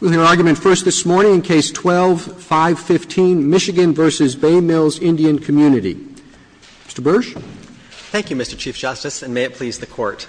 We will hear argument first this morning in Case 12-515, Michigan v. Bay Mills Indian Community. Mr. Bursch. Thank you, Mr. Chief Justice, and may it please the Court.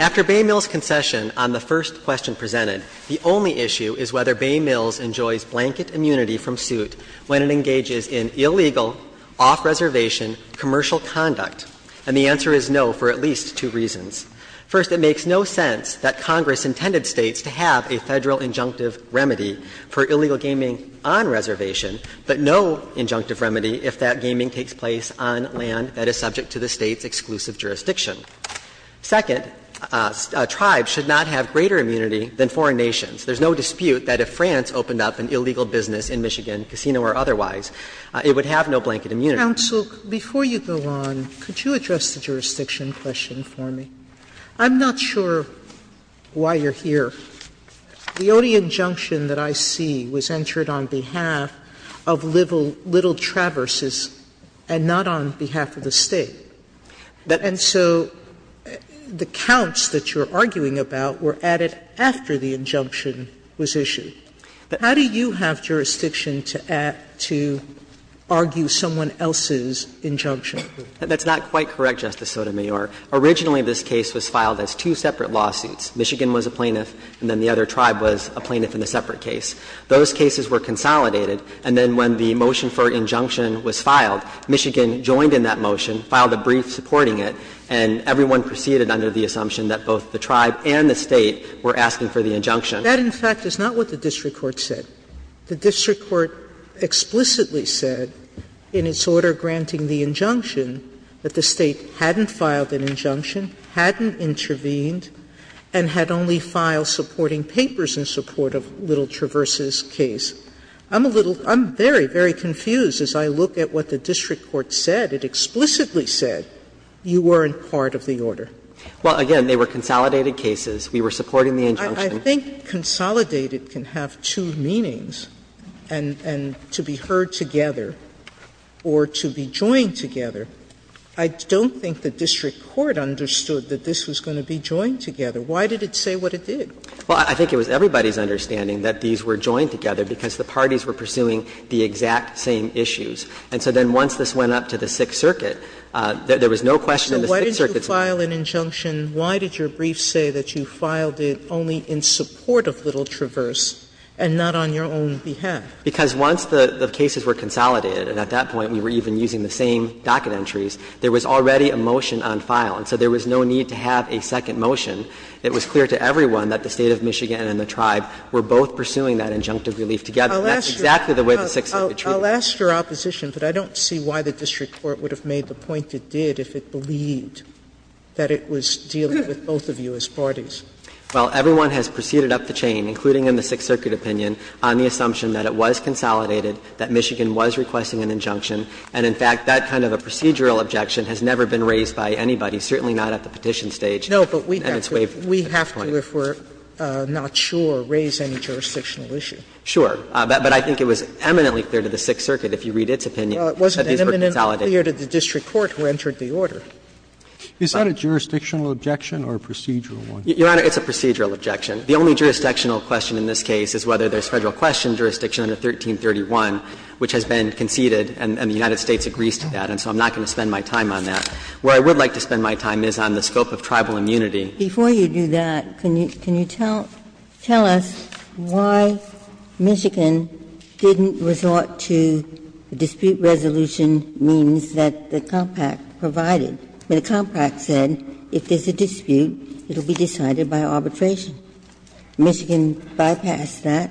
After Bay Mills' concession on the first question presented, the only issue is whether Bay Mills enjoys blanket immunity from suit when it engages in illegal, off-reservation commercial conduct. And the answer is no for at least two reasons. First, it makes no sense that Congress intended States to have a Federal injunctive remedy for illegal gaming on reservation, but no injunctive remedy if that gaming takes place on land that is subject to the State's exclusive jurisdiction. Second, tribes should not have greater immunity than foreign nations. There is no dispute that if France opened up an illegal business in Michigan, casino or otherwise, it would have no blanket immunity. Counsel, before you go on, could you address the jurisdiction question for me? I'm not sure why you're here. The only injunction that I see was entered on behalf of Little Traverses and not on behalf of the State. And so the counts that you're arguing about were added after the injunction was issued. How do you have jurisdiction to add to argue someone else's injunction? That's not quite correct, Justice Sotomayor. Originally, this case was filed as two separate lawsuits. Michigan was a plaintiff and then the other tribe was a plaintiff in a separate case. Those cases were consolidated. And then when the motion for injunction was filed, Michigan joined in that motion, filed a brief supporting it, and everyone proceeded under the assumption that both the tribe and the State were asking for the injunction. That, in fact, is not what the district court said. The district court explicitly said in its order granting the injunction that the State hadn't filed an injunction, hadn't intervened, and had only filed supporting papers in support of Little Traverses' case. I'm a little – I'm very, very confused as I look at what the district court said. It explicitly said you weren't part of the order. Well, again, they were consolidated cases. We were supporting the injunction. Sotomayor, I think consolidated can have two meanings, and to be heard together or to be joined together. I don't think the district court understood that this was going to be joined together. Why did it say what it did? Well, I think it was everybody's understanding that these were joined together because the parties were pursuing the exact same issues. And so then once this went up to the Sixth Circuit, there was no question in the Sixth Circuit's mind. Sotomayor, if you didn't file an injunction, why did your brief say that you filed it only in support of Little Traverse and not on your own behalf? Because once the cases were consolidated, and at that point we were even using the same docket entries, there was already a motion on file. And so there was no need to have a second motion. It was clear to everyone that the State of Michigan and the tribe were both pursuing that injunctive relief together. And that's exactly the way the Sixth Circuit treated it. Sotomayor, I'll ask your opposition, but I don't see why the district court would have made the point it did if it believed that it was dealing with both of you as parties. Well, everyone has proceeded up the chain, including in the Sixth Circuit opinion, on the assumption that it was consolidated, that Michigan was requesting an injunction. And in fact, that kind of a procedural objection has never been raised by anybody, certainly not at the petition stage. No, but we have to, if we're not sure, raise any jurisdictional issue. Sure. But I think it was eminently clear to the Sixth Circuit, if you read its opinion, that these were consolidated. Well, it wasn't eminently clear to the district court who entered the order. Is that a jurisdictional objection or a procedural one? Your Honor, it's a procedural objection. The only jurisdictional question in this case is whether there's Federal question jurisdiction under 1331, which has been conceded, and the United States agrees to that. And so I'm not going to spend my time on that. Where I would like to spend my time is on the scope of tribal immunity. Ginsburg. Before you do that, can you tell us why Michigan didn't resort to the dispute resolution means that the compact provided? The compact said if there's a dispute, it will be decided by arbitration. Michigan bypassed that?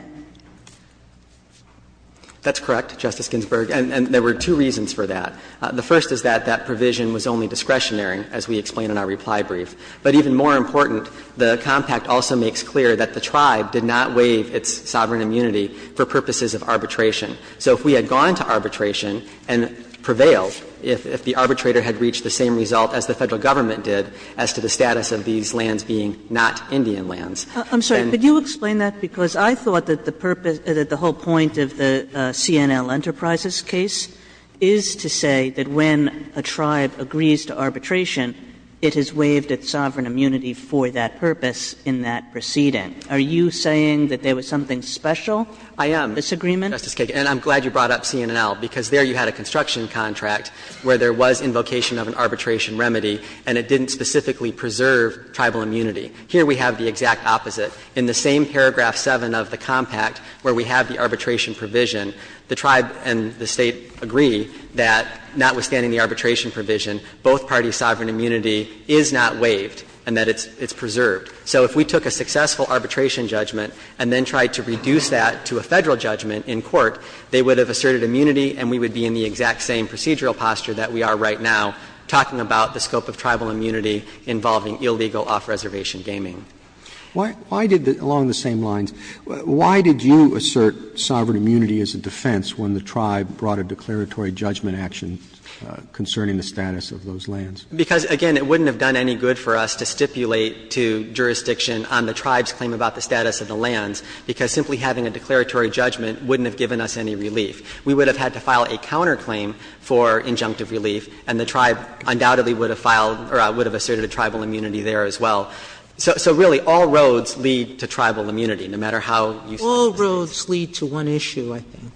That's correct, Justice Ginsburg, and there were two reasons for that. The first is that that provision was only discretionary, as we explain in our reply brief. But even more important, the compact also makes clear that the tribe did not waive its sovereign immunity for purposes of arbitration. So if we had gone to arbitration and prevailed, if the arbitrator had reached the same result as the Federal Government did as to the status of these lands being not Indian lands, then the tribe would have been able to resolve the dispute. I'm sorry. Could you explain that? Because I thought that the purpose of the whole point of the CNL Enterprises case is to say that when a tribe agrees to arbitration, it has waived its sovereign immunity for that purpose in that proceeding. Are you saying that there was something special? I am. Disagreement? Justice Kagan, and I'm glad you brought up CNNL, because there you had a construction contract where there was invocation of an arbitration remedy and it didn't specifically preserve tribal immunity. Here we have the exact opposite. In the same paragraph 7 of the compact where we have the arbitration provision, the tribe and the State agree that notwithstanding the arbitration provision, both parties' sovereign immunity is not waived and that it's preserved. So if we took a successful arbitration judgment and then tried to reduce that to a Federal judgment in court, they would have asserted immunity and we would be in the exact same procedural posture that we are right now talking about the scope of tribal immunity involving illegal off-reservation gaming. Why did the — along the same lines, why did you assert sovereign immunity as a defense when the tribe brought a declaratory judgment action concerning the status of those lands? Because, again, it wouldn't have done any good for us to stipulate to jurisdiction on the tribe's claim about the status of the lands, because simply having a declaratory judgment wouldn't have given us any relief. We would have had to file a counterclaim for injunctive relief and the tribe undoubtedly would have filed or would have asserted a tribal immunity there as well. So really, all roads lead to tribal immunity, no matter how you see it. Sotomayor, all roads lead to one issue, I think.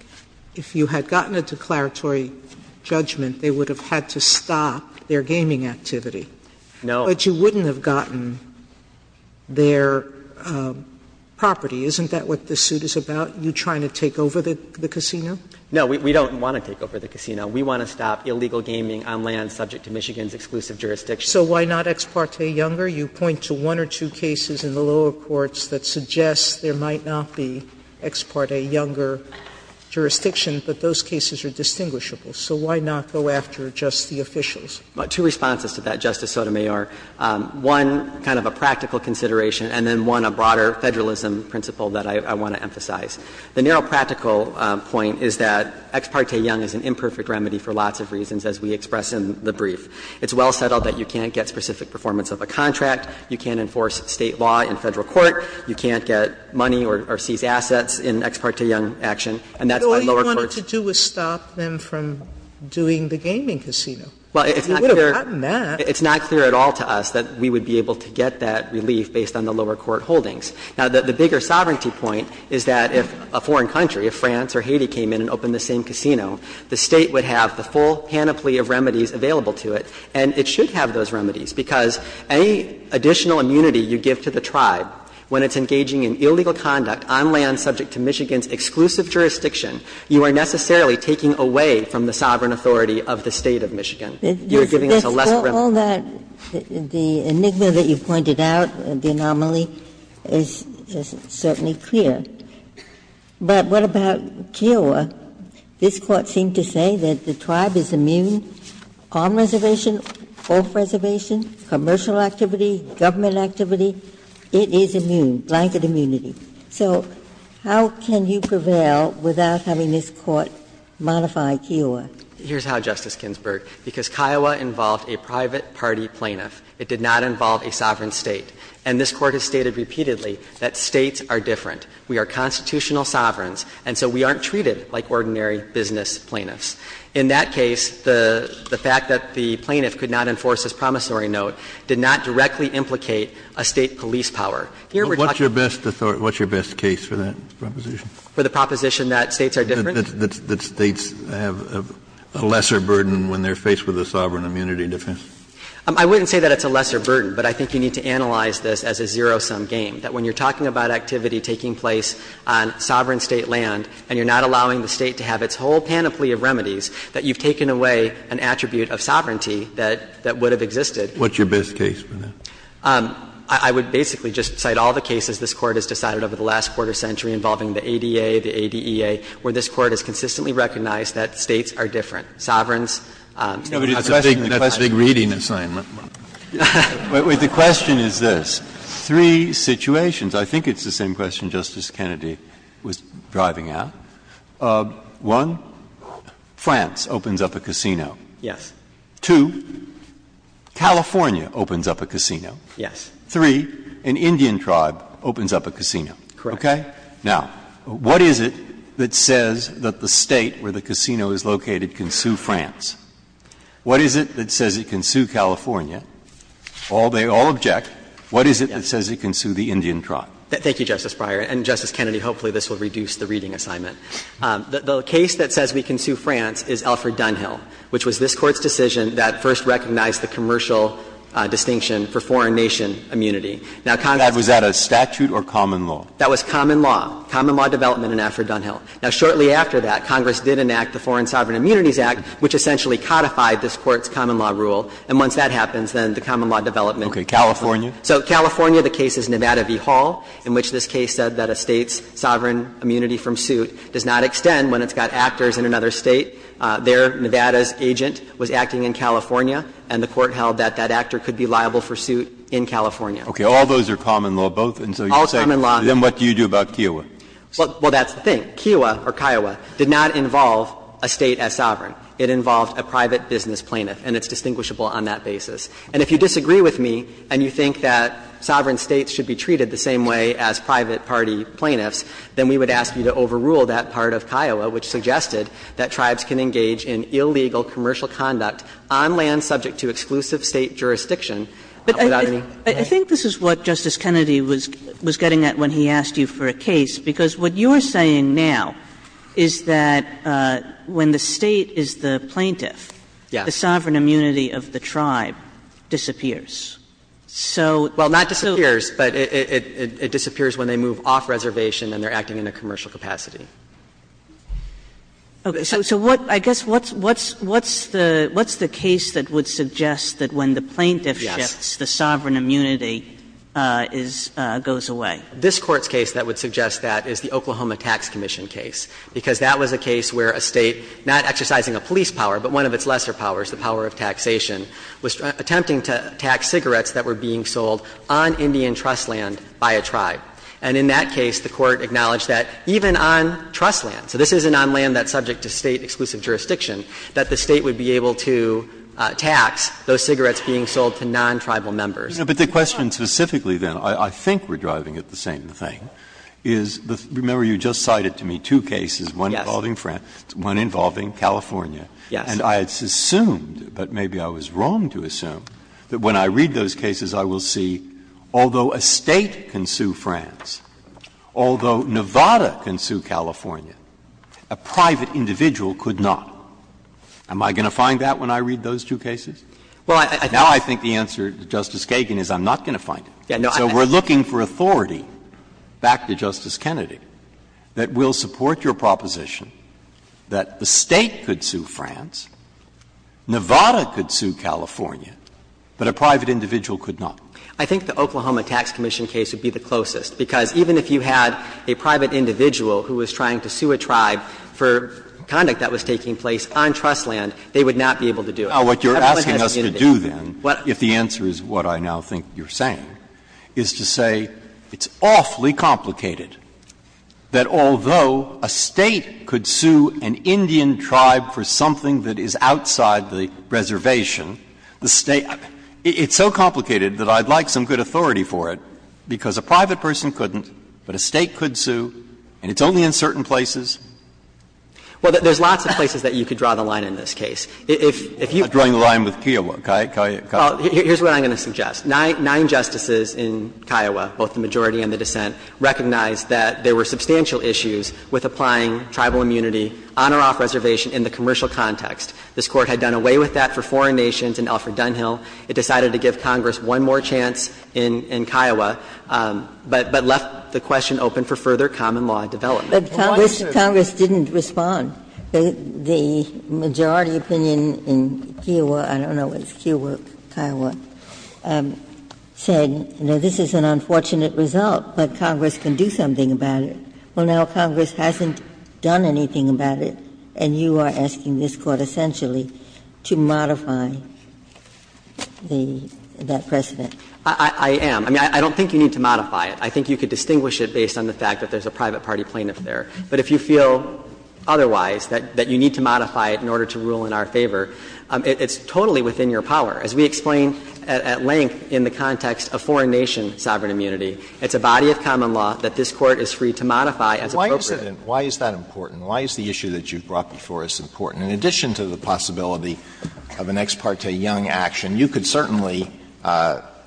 If you had gotten a declaratory judgment, they would have had to stop their gaming activity. No. But you wouldn't have gotten their property. Isn't that what this suit is about, you trying to take over the casino? No, we don't want to take over the casino. We want to stop illegal gaming on lands subject to Michigan's exclusive jurisdiction. So why not ex parte Younger? You point to one or two cases in the lower courts that suggest there might not be ex parte Younger jurisdiction, but those cases are distinguishable. So why not go after just the officials? Two responses to that, Justice Sotomayor. One, kind of a practical consideration, and then one, a broader Federalism principle that I want to emphasize. The narrow practical point is that ex parte Young is an imperfect remedy for lots of reasons, as we express in the brief. It's well settled that you can't get specific performance of a contract, you can't enforce State law in Federal court, you can't get money or seize assets in ex parte Young action, and that's why lower courts do that. Sotomayor, all you wanted to do was stop them from doing the gaming casino. You would have gotten that. It's not clear at all to us that we would be able to get that relief based on the lower court holdings. Now, the bigger sovereignty point is that if a foreign country, if France or Haiti came in and opened the same casino, the State would have the full panoply of remedies available to it, and it should have those remedies, because any additional immunity you give to the tribe when it's engaging in illegal conduct on land subject to Michigan's exclusive jurisdiction, you are necessarily taking away from the sovereign authority of the State of Michigan. You are giving us a less remedy. Ginsburg. All that, the enigma that you pointed out, the anomaly, is certainly clear. But what about Kiowa? This Court seemed to say that the tribe is immune. Palm reservation, oak reservation, commercial activity, government activity, it is immune, blanket immunity. So how can you prevail without having this Court modify Kiowa? Here's how, Justice Ginsburg. Because Kiowa involved a private party plaintiff. It did not involve a sovereign State. And this Court has stated repeatedly that States are different. We are constitutional sovereigns, and so we aren't treated like ordinary business plaintiffs. In that case, the fact that the plaintiff could not enforce this promissory note did not directly implicate a State police power. Here we're talking about the authority. Kennedy. What's your best case for that proposition? For the proposition that States are different? That States have a lesser burden when they're faced with a sovereign immunity defense? I wouldn't say that it's a lesser burden, but I think you need to analyze this as a zero-sum game. That when you're talking about activity taking place on sovereign State land and you're not allowing the State to have its whole panoply of remedies, that you've taken away an attribute of sovereignty that would have existed. What's your best case for that? I would basically just cite all the cases this Court has decided over the last quarter century involving the ADA, the ADEA, where this Court has consistently recognized that States are different. Sovereigns. That's a big reading assignment. Breyer. The question is this. Three situations. I think it's the same question Justice Kennedy was driving at. One, France opens up a casino. Yes. Two, California opens up a casino. Yes. Three, an Indian tribe opens up a casino. Correct. Okay? Now, what is it that says that the State where the casino is located can sue France? What is it that says it can sue California? All they all object. What is it that says it can sue the Indian tribe? Thank you, Justice Breyer. And, Justice Kennedy, hopefully this will reduce the reading assignment. The case that says we can sue France is Alfred Dunhill, which was this Court's decision that first recognized the commercial distinction for foreign nation immunity. Now, Congress was at a statute or common law? That was common law, common law development in Alfred Dunhill. Now, shortly after that, Congress did enact the Foreign Sovereign Immunities Act, which essentially codified this Court's common law rule. And once that happens, then the common law development. Okay. California? So California, the case is Nevada v. Hall, in which this case said that a State's sovereign immunity from suit does not extend when it's got actors in another State. There, Nevada's agent was acting in California, and the Court held that that actor could be liable for suit in California. Okay. All those are common law, both? Well, that's the thing. The State, Kiowa or Kiowa, did not involve a State as sovereign. It involved a private business plaintiff, and it's distinguishable on that basis. And if you disagree with me and you think that sovereign States should be treated the same way as private party plaintiffs, then we would ask you to overrule that part of Kiowa, which suggested that tribes can engage in illegal commercial conduct on land subject to exclusive State jurisdiction without any right. But I think this is what Justice Kennedy was getting at when he asked you for a case, because what you're saying now is that when the State is the plaintiff, the sovereign immunity of the tribe disappears. So so. Well, not disappears, but it disappears when they move off reservation and they're acting in a commercial capacity. So what, I guess, what's the case that would suggest that when the plaintiff shifts, the sovereign immunity goes away? And this Court's case that would suggest that is the Oklahoma Tax Commission case, because that was a case where a State, not exercising a police power, but one of its lesser powers, the power of taxation, was attempting to tax cigarettes that were being sold on Indian trust land by a tribe. And in that case, the Court acknowledged that even on trust land, so this isn't on land that's subject to State exclusive jurisdiction, that the State would be able to tax those cigarettes being sold to non-tribal members. Breyer. But the question specifically, then, I think we're driving at the same thing, is the – remember, you just cited to me two cases, one involving France, one involving California. And I had assumed, but maybe I was wrong to assume, that when I read those cases, I will see, although a State can sue France, although Nevada can sue California, a private individual could not. Am I going to find that when I read those two cases? Now I think the answer, Justice Kagan, is I'm not going to find it. So we're looking for authority, back to Justice Kennedy, that will support your proposition that the State could sue France, Nevada could sue California, but a private individual could not. I think the Oklahoma Tax Commission case would be the closest, because even if you had a private individual who was trying to sue a tribe for conduct that was taking Now, what you're asking us to do, then, if the answer is what I now think you're saying, is to say it's awfully complicated that although a State could sue an Indian tribe for something that is outside the reservation, the State – it's so complicated that I'd like some good authority for it, because a private person couldn't, but a State could sue, and it's only in certain places. Well, there's lots of places that you could draw the line in this case. If you – I'm drawing the line with Kiowa, right? Well, here's what I'm going to suggest. Nine justices in Kiowa, both the majority and the dissent, recognized that there were substantial issues with applying tribal immunity on or off reservation in the commercial context. This Court had done away with that for foreign nations in Alfred Dunhill. It decided to give Congress one more chance in Kiowa, but left the question open for further common law development. But Congress didn't respond. The majority opinion in Kiowa – I don't know if it's Kiowa or Kiowa – said, you know, this is an unfortunate result, but Congress can do something about it. Well, now Congress hasn't done anything about it, and you are asking this Court essentially to modify the – that precedent. I am. I mean, I don't think you need to modify it. I think you could distinguish it based on the fact that there's a private party plaintiff there. But if you feel otherwise, that you need to modify it in order to rule in our favor, it's totally within your power. As we explain at length in the context of foreign nation sovereign immunity, it's a body of common law that this Court is free to modify as appropriate. Alitoso, why is that important? Why is the issue that you brought before us important? In addition to the possibility of an Ex parte Young action, you could certainly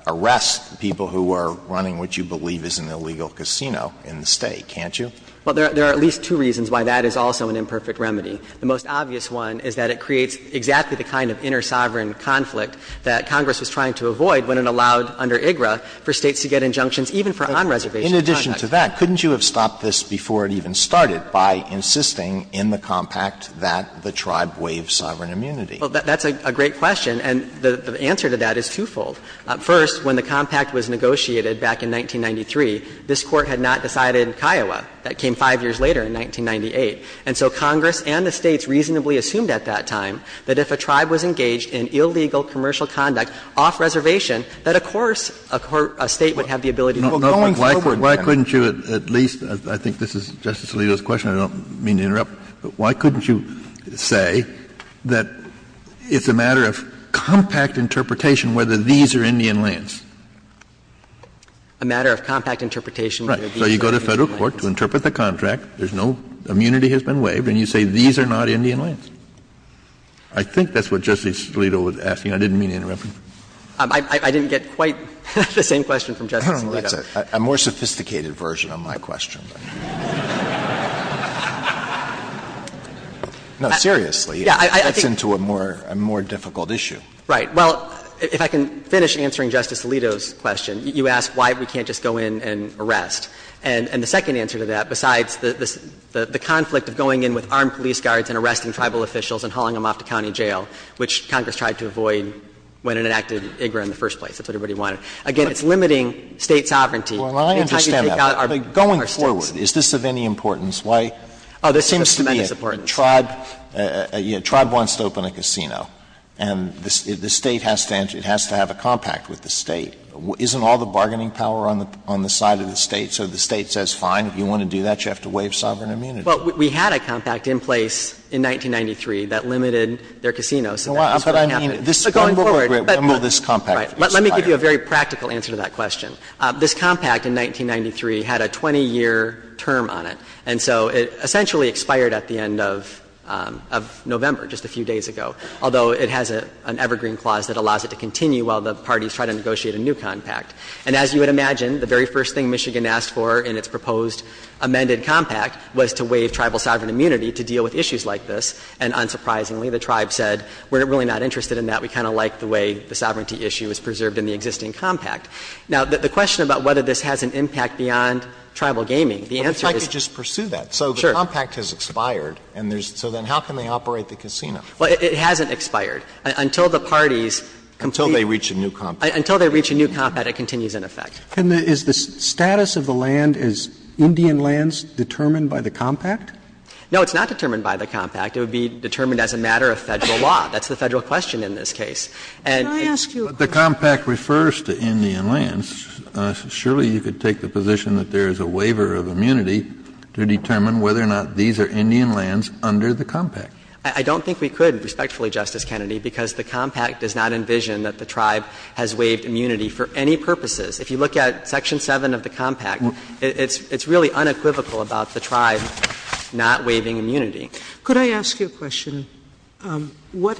arrest people who are running what you believe is an illegal casino in the State, can't you? Well, there are at least two reasons why that is also an imperfect remedy. The most obvious one is that it creates exactly the kind of inner sovereign conflict that Congress was trying to avoid when it allowed under IGRA for States to get injunctions even for on-reservation contracts. In addition to that, couldn't you have stopped this before it even started by insisting in the compact that the tribe waive sovereign immunity? Well, that's a great question, and the answer to that is twofold. First, when the compact was negotiated back in 1993, this Court had not decided in Kiowa. That came five years later in 1998. And so Congress and the States reasonably assumed at that time that if a tribe was engaged in illegal commercial conduct off-reservation, that of course a State would have the ability to do it. Well, going forward, Justice Alito, I think this is Justice Alito's question. I don't mean to interrupt. Why couldn't you say that it's a matter of compact interpretation whether these are Indian lands? A matter of compact interpretation whether these are Indian lands. So you go to Federal court to interpret the contract, there's no immunity has been waived, and you say these are not Indian lands. I think that's what Justice Alito was asking. I didn't mean to interrupt him. I didn't get quite the same question from Justice Alito. A more sophisticated version of my question. No, seriously, that's into a more difficult issue. Right. Well, if I can finish answering Justice Alito's question, you asked why we can't just go in and arrest. And the second answer to that, besides the conflict of going in with armed police guards and arresting Tribal officials and hauling them off to county jail, which Congress tried to avoid when it enacted IGRA in the first place, that's what everybody wanted, again, it's limiting State sovereignty. Well, I understand that, but going forward, is this of any importance? Why? Oh, there seems to be a Tribe wants to open a casino, and the State has to have a compact with the State. Isn't all the bargaining power on the side of the State, so the State says, fine, if you want to do that, you have to waive sovereign immunity? Well, we had a compact in place in 1993 that limited their casinos. But going forward, but let me give you a very practical answer to that question. This compact in 1993 had a 20-year term on it, and so it essentially expired at the end of November, just a few days ago, although it has an evergreen clause that allows it to continue while the parties try to negotiate a new compact. And as you would imagine, the very first thing Michigan asked for in its proposed amended compact was to waive Tribal sovereign immunity to deal with issues like this. And unsurprisingly, the Tribe said, we're really not interested in that. We kind of like the way the sovereignty issue is preserved in the existing compact. Now, the question about whether this has an impact beyond Tribal gaming, the answer is no. But if I could just pursue that. Sure. So the compact has expired, and there's so then how can they operate the casino? Well, it hasn't expired. Until the parties complete. Until they reach a new compact. Until they reach a new compact, it continues in effect. And is the status of the land, is Indian lands determined by the compact? No, it's not determined by the compact. It would be determined as a matter of Federal law. That's the Federal question in this case. And it's. But the compact refers to Indian lands. Surely you could take the position that there is a waiver of immunity to determine whether or not these are Indian lands under the compact. I don't think we could, respectfully, Justice Kennedy, because the compact does not envision that the tribe has waived immunity for any purposes. If you look at section 7 of the compact, it's really unequivocal about the tribe not waiving immunity. Could I ask you a question? What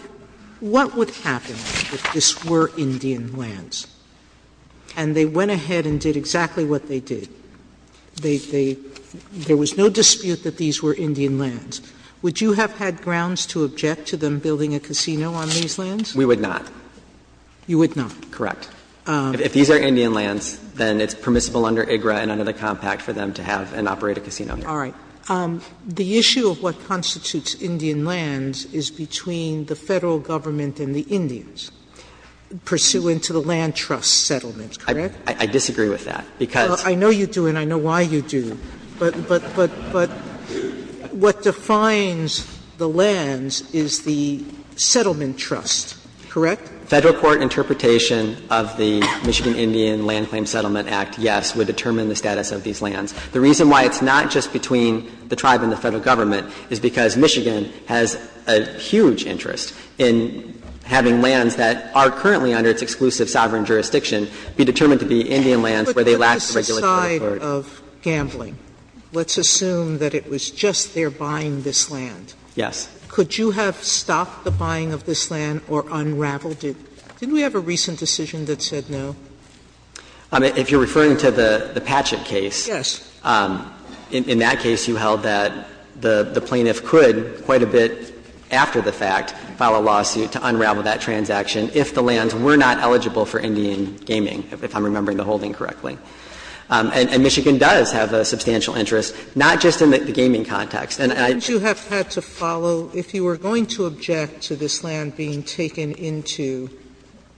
would happen if this were Indian lands, and they went ahead and did exactly what they did? There was no dispute that these were Indian lands. Would you have had grounds to object to them building a casino on these lands? We would not. You would not? Correct. If these are Indian lands, then it's permissible under IGRA and under the compact for them to have and operate a casino. All right. The issue of what constitutes Indian lands is between the Federal Government and the Indians, pursuant to the land trust settlement, correct? I disagree with that, because. I know you do, and I know why you do. But what defines the lands is the settlement trust, correct? Federal court interpretation of the Michigan Indian Land Claims Settlement Act, yes, would determine the status of these lands. The reason why it's not just between the tribe and the Federal Government is because Michigan has a huge interest in having lands that are currently under its exclusive sovereign jurisdiction be determined to be Indian lands where they lack the regulatory authority. Sotomayor, on the other side of gambling, let's assume that it was just their buying this land. Yes. Could you have stopped the buying of this land or unraveled it? Didn't we have a recent decision that said no? If you're referring to the Patchett case. Yes. In that case, you held that the plaintiff could, quite a bit after the fact, file a lawsuit to unravel that transaction if the lands were not eligible for Indian gaming, if I'm remembering the holding correctly. And Michigan does have a substantial interest, not just in the gaming context. And I do have to follow, if you were going to object to this land being taken into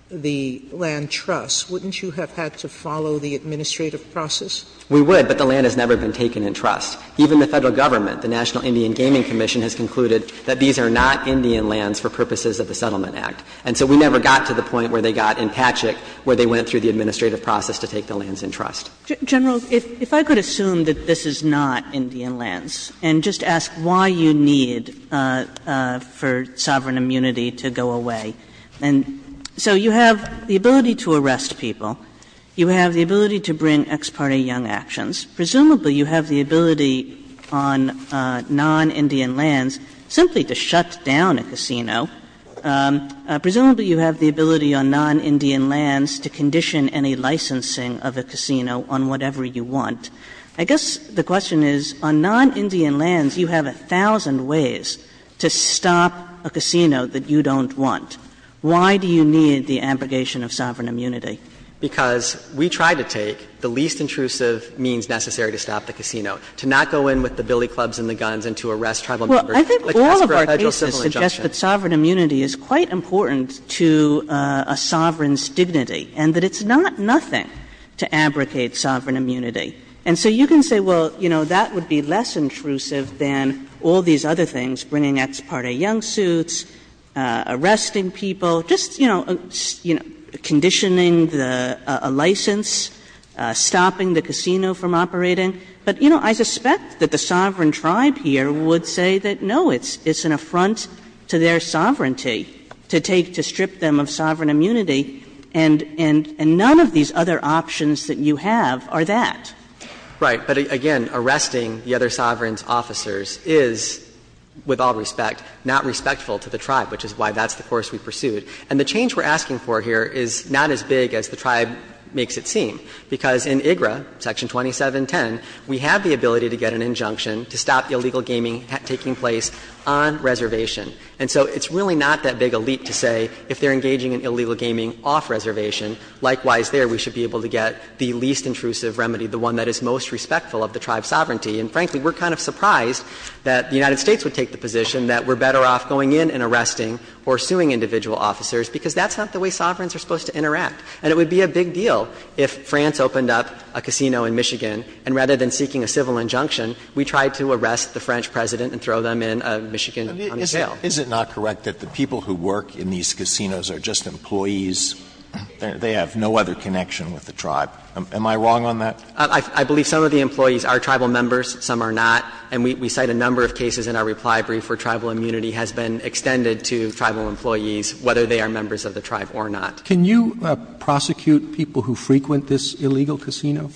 the land trust, wouldn't you have had to follow the administrative process? We would, but the land has never been taken in trust. Even the Federal Government, the National Indian Gaming Commission, has concluded that these are not Indian lands for purposes of the Settlement Act. And so we never got to the point where they got in Patchett where they went through the administrative process to take the lands in trust. Kagan. General, if I could assume that this is not Indian lands, and just ask why you need for sovereign immunity to go away. And so you have the ability to arrest people. You have the ability to bring ex parte young actions. Presumably, you have the ability on non-Indian lands simply to shut down a casino. Presumably, you have the ability on non-Indian lands to condition any licensing of a casino on whatever you want. I guess the question is, on non-Indian lands, you have a thousand ways to stop a casino that you don't want. Why do you need the abrogation of sovereign immunity? Because we try to take the least intrusive means necessary to stop the casino, to not go in with the billy clubs and the guns and to arrest Tribal members. I think all of our cases suggest that sovereign immunity is quite important to a sovereign's dignity, and that it's not nothing to abrogate sovereign immunity. And so you can say, well, you know, that would be less intrusive than all these other things, bringing ex parte young suits, arresting people, just, you know, conditioning a license, stopping the casino from operating. But, you know, I suspect that the sovereign tribe here would say that, no, it's an affront to their sovereignty to take, to strip them of sovereign immunity, and none of these other options that you have are that. Right. But, again, arresting the other sovereign's officers is, with all respect, not respectful to the tribe, which is why that's the course we pursued. And the change we're asking for here is not as big as the tribe makes it seem, because in IGRA, Section 2710, we have the ability to get an injunction to stop illegal gaming taking place on reservation. And so it's really not that big a leap to say if they're engaging in illegal gaming off reservation, likewise there we should be able to get the least intrusive remedy, the one that is most respectful of the tribe's sovereignty. And, frankly, we're kind of surprised that the United States would take the position that we're better off going in and arresting or suing individual officers, because that's not the way sovereigns are supposed to interact. And it would be a big deal if France opened up a casino in Michigan, and rather than seeking a civil injunction, we tried to arrest the French President and throw them in a Michigan jail. Alito Is it not correct that the people who work in these casinos are just employees? They have no other connection with the tribe. Am I wrong on that? I believe some of the employees are tribal members, some are not. And we cite a number of cases in our reply brief where tribal immunity has been extended to tribal employees, whether they are members of the tribe or not. Can you prosecute people who frequent this illegal casino?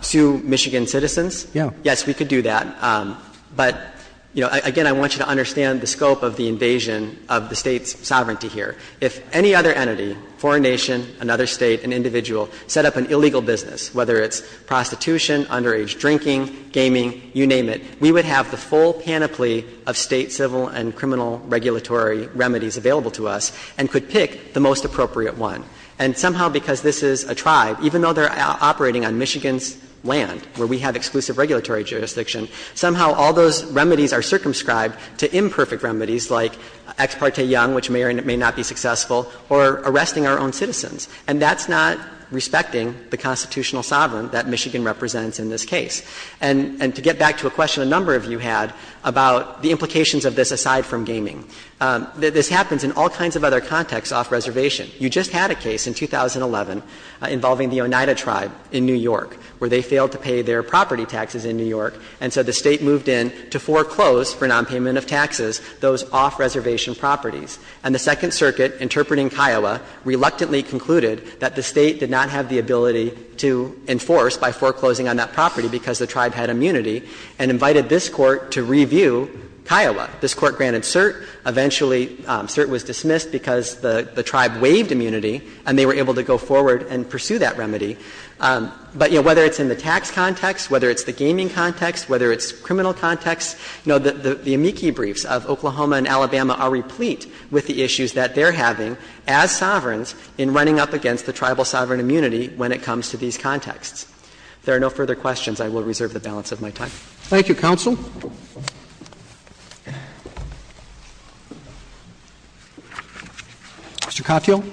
Sue Michigan citizens? Yes, we could do that. But, you know, again, I want you to understand the scope of the invasion of the State's sovereignty here. If any other entity, foreign nation, another State, an individual, set up an illegal business, whether it's prostitution, underage drinking, gaming, you name it, we would have the full panoply of State civil and criminal regulatory remedies available to us and could pick the most appropriate one. And somehow, because this is a tribe, even though they are operating on Michigan's land where we have exclusive regulatory jurisdiction, somehow all those remedies are circumscribed to imperfect remedies like Ex parte Young, which may or may not be successful, or arresting our own citizens. And that's not respecting the constitutional sovereignty that Michigan represents in this case. And to get back to a question a number of you had about the implications of this aside from gaming, this happens in all kinds of other contexts off-reservation. You just had a case in 2011 involving the Oneida tribe in New York, where they failed to pay their property taxes in New York, and so the State moved in to foreclose for nonpayment of taxes those off-reservation properties. And the Second Circuit, interpreting Kiowa, reluctantly concluded that the State did not have the ability to enforce by foreclosing on that property because the tribe had immunity, and invited this Court to review Kiowa. This Court granted cert. Eventually, cert was dismissed because the tribe waived immunity, and they were able to go forward and pursue that remedy. But, you know, whether it's in the tax context, whether it's the gaming context, whether it's criminal context, you know, the amici briefs of Oklahoma and Alabama are replete with the issues that they're having as sovereigns in running up against the tribal sovereign immunity when it comes to these contexts. If there are no further questions, I will reserve the balance of my time. Roberts. Thank you, counsel. Mr. Katyal. Katyal.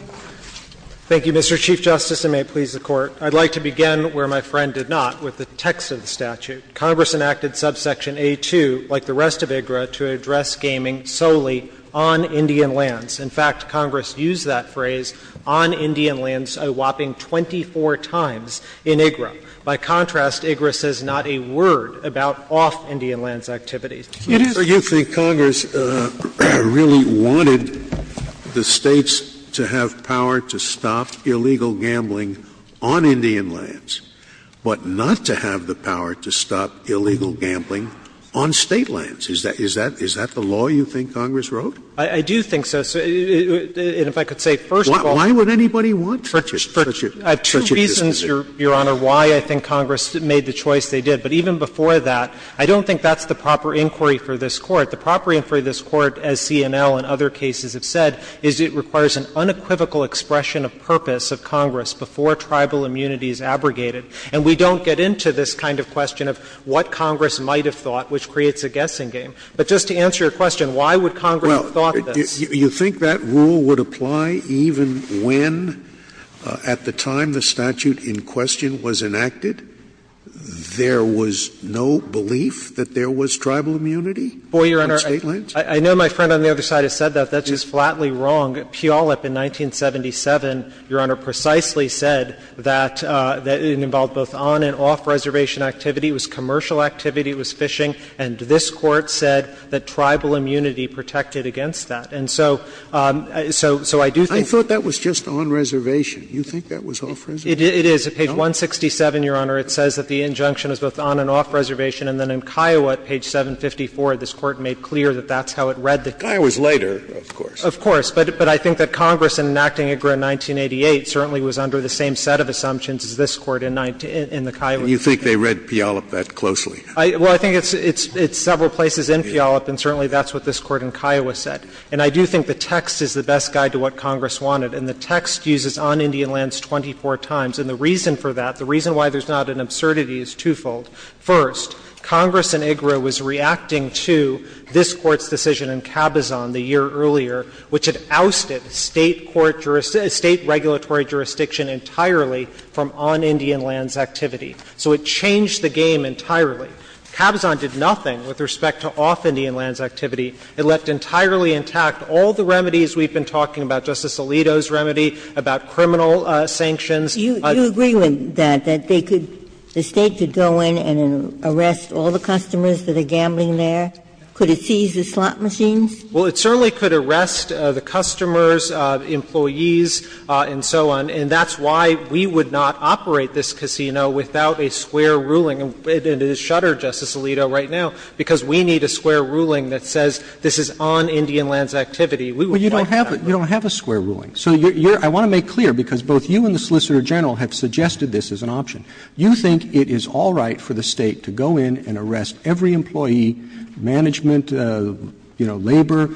Thank you, Mr. Chief Justice, and may it please the Court. I'd like to begin where my friend did not, with the text of the statute. Congress enacted subsection A-2, like the rest of IGRA, to address gaming solely on Indian lands. In fact, Congress used that phrase, on Indian lands, a whopping 24 times in IGRA. By contrast, IGRA says not a word about off-Indian lands activities. Scalia. You think Congress really wanted the States to have power to stop illegal gambling on Indian lands, but not to have the power to stop illegal gambling on State lands? Is that the law you think Congress wrote? I do think so. And if I could say first of all why would anybody want to? I have two reasons, Your Honor, why I think Congress made the choice they did. But even before that, I don't think that's the proper inquiry for this Court. The proper inquiry for this Court, as C&L and other cases have said, is it requires an unequivocal expression of purpose of Congress before tribal immunity is abrogated. And we don't get into this kind of question of what Congress might have thought, which creates a guessing game. But just to answer your question, why would Congress have thought this? Do you think that rule would apply even when, at the time the statute in question was enacted, there was no belief that there was tribal immunity on State lands? Boy, Your Honor, I know my friend on the other side has said that. That's just flatly wrong. Puyallup in 1977, Your Honor, precisely said that it involved both on and off-reservation activity, it was commercial activity, it was fishing, and this Court said that tribal immunity was not an issue, so I do think that's not the proper inquiry for this Court. Scalia, I thought that was just on-reservation. Do you think that was off-reservation? It is. On page 167, Your Honor, it says that the injunction is both on and off-reservation. And then in Kiowa, page 754, this Court made clear that that's how it read the case. Kiowa is later, of course. Of course. But I think that Congress, in enacting it in 1988, certainly was under the same set of assumptions as this Court in the Kiowa case. And you think they read Puyallup that closely? Well, I think it's several places in Puyallup, and certainly that's what this Court in Kiowa said. And I do think the text is the best guide to what Congress wanted. And the text uses on Indian lands 24 times. And the reason for that, the reason why there's not an absurdity, is twofold. First, Congress in IGRA was reacting to this Court's decision in Cabazon the year earlier, which had ousted State court ‑‑ State regulatory jurisdiction entirely from on Indian lands activity. So it changed the game entirely. Cabazon did nothing with respect to off Indian lands activity. It left entirely intact all the remedies we've been talking about, Justice Alito's remedy, about criminal sanctions. You agree with that, that they could ‑‑ the State could go in and arrest all the customers that are gambling there? Could it seize the slot machines? Well, it certainly could arrest the customers, employees, and so on. And that's why we would not operate this casino without a square ruling. And it is shuttered, Justice Alito, right now, because we need a square ruling that says this is on Indian lands activity. We would like that. But you don't have a square ruling. So I want to make clear, because both you and the Solicitor General have suggested this as an option. You think it is all right for the State to go in and arrest every employee, management, you know, labor,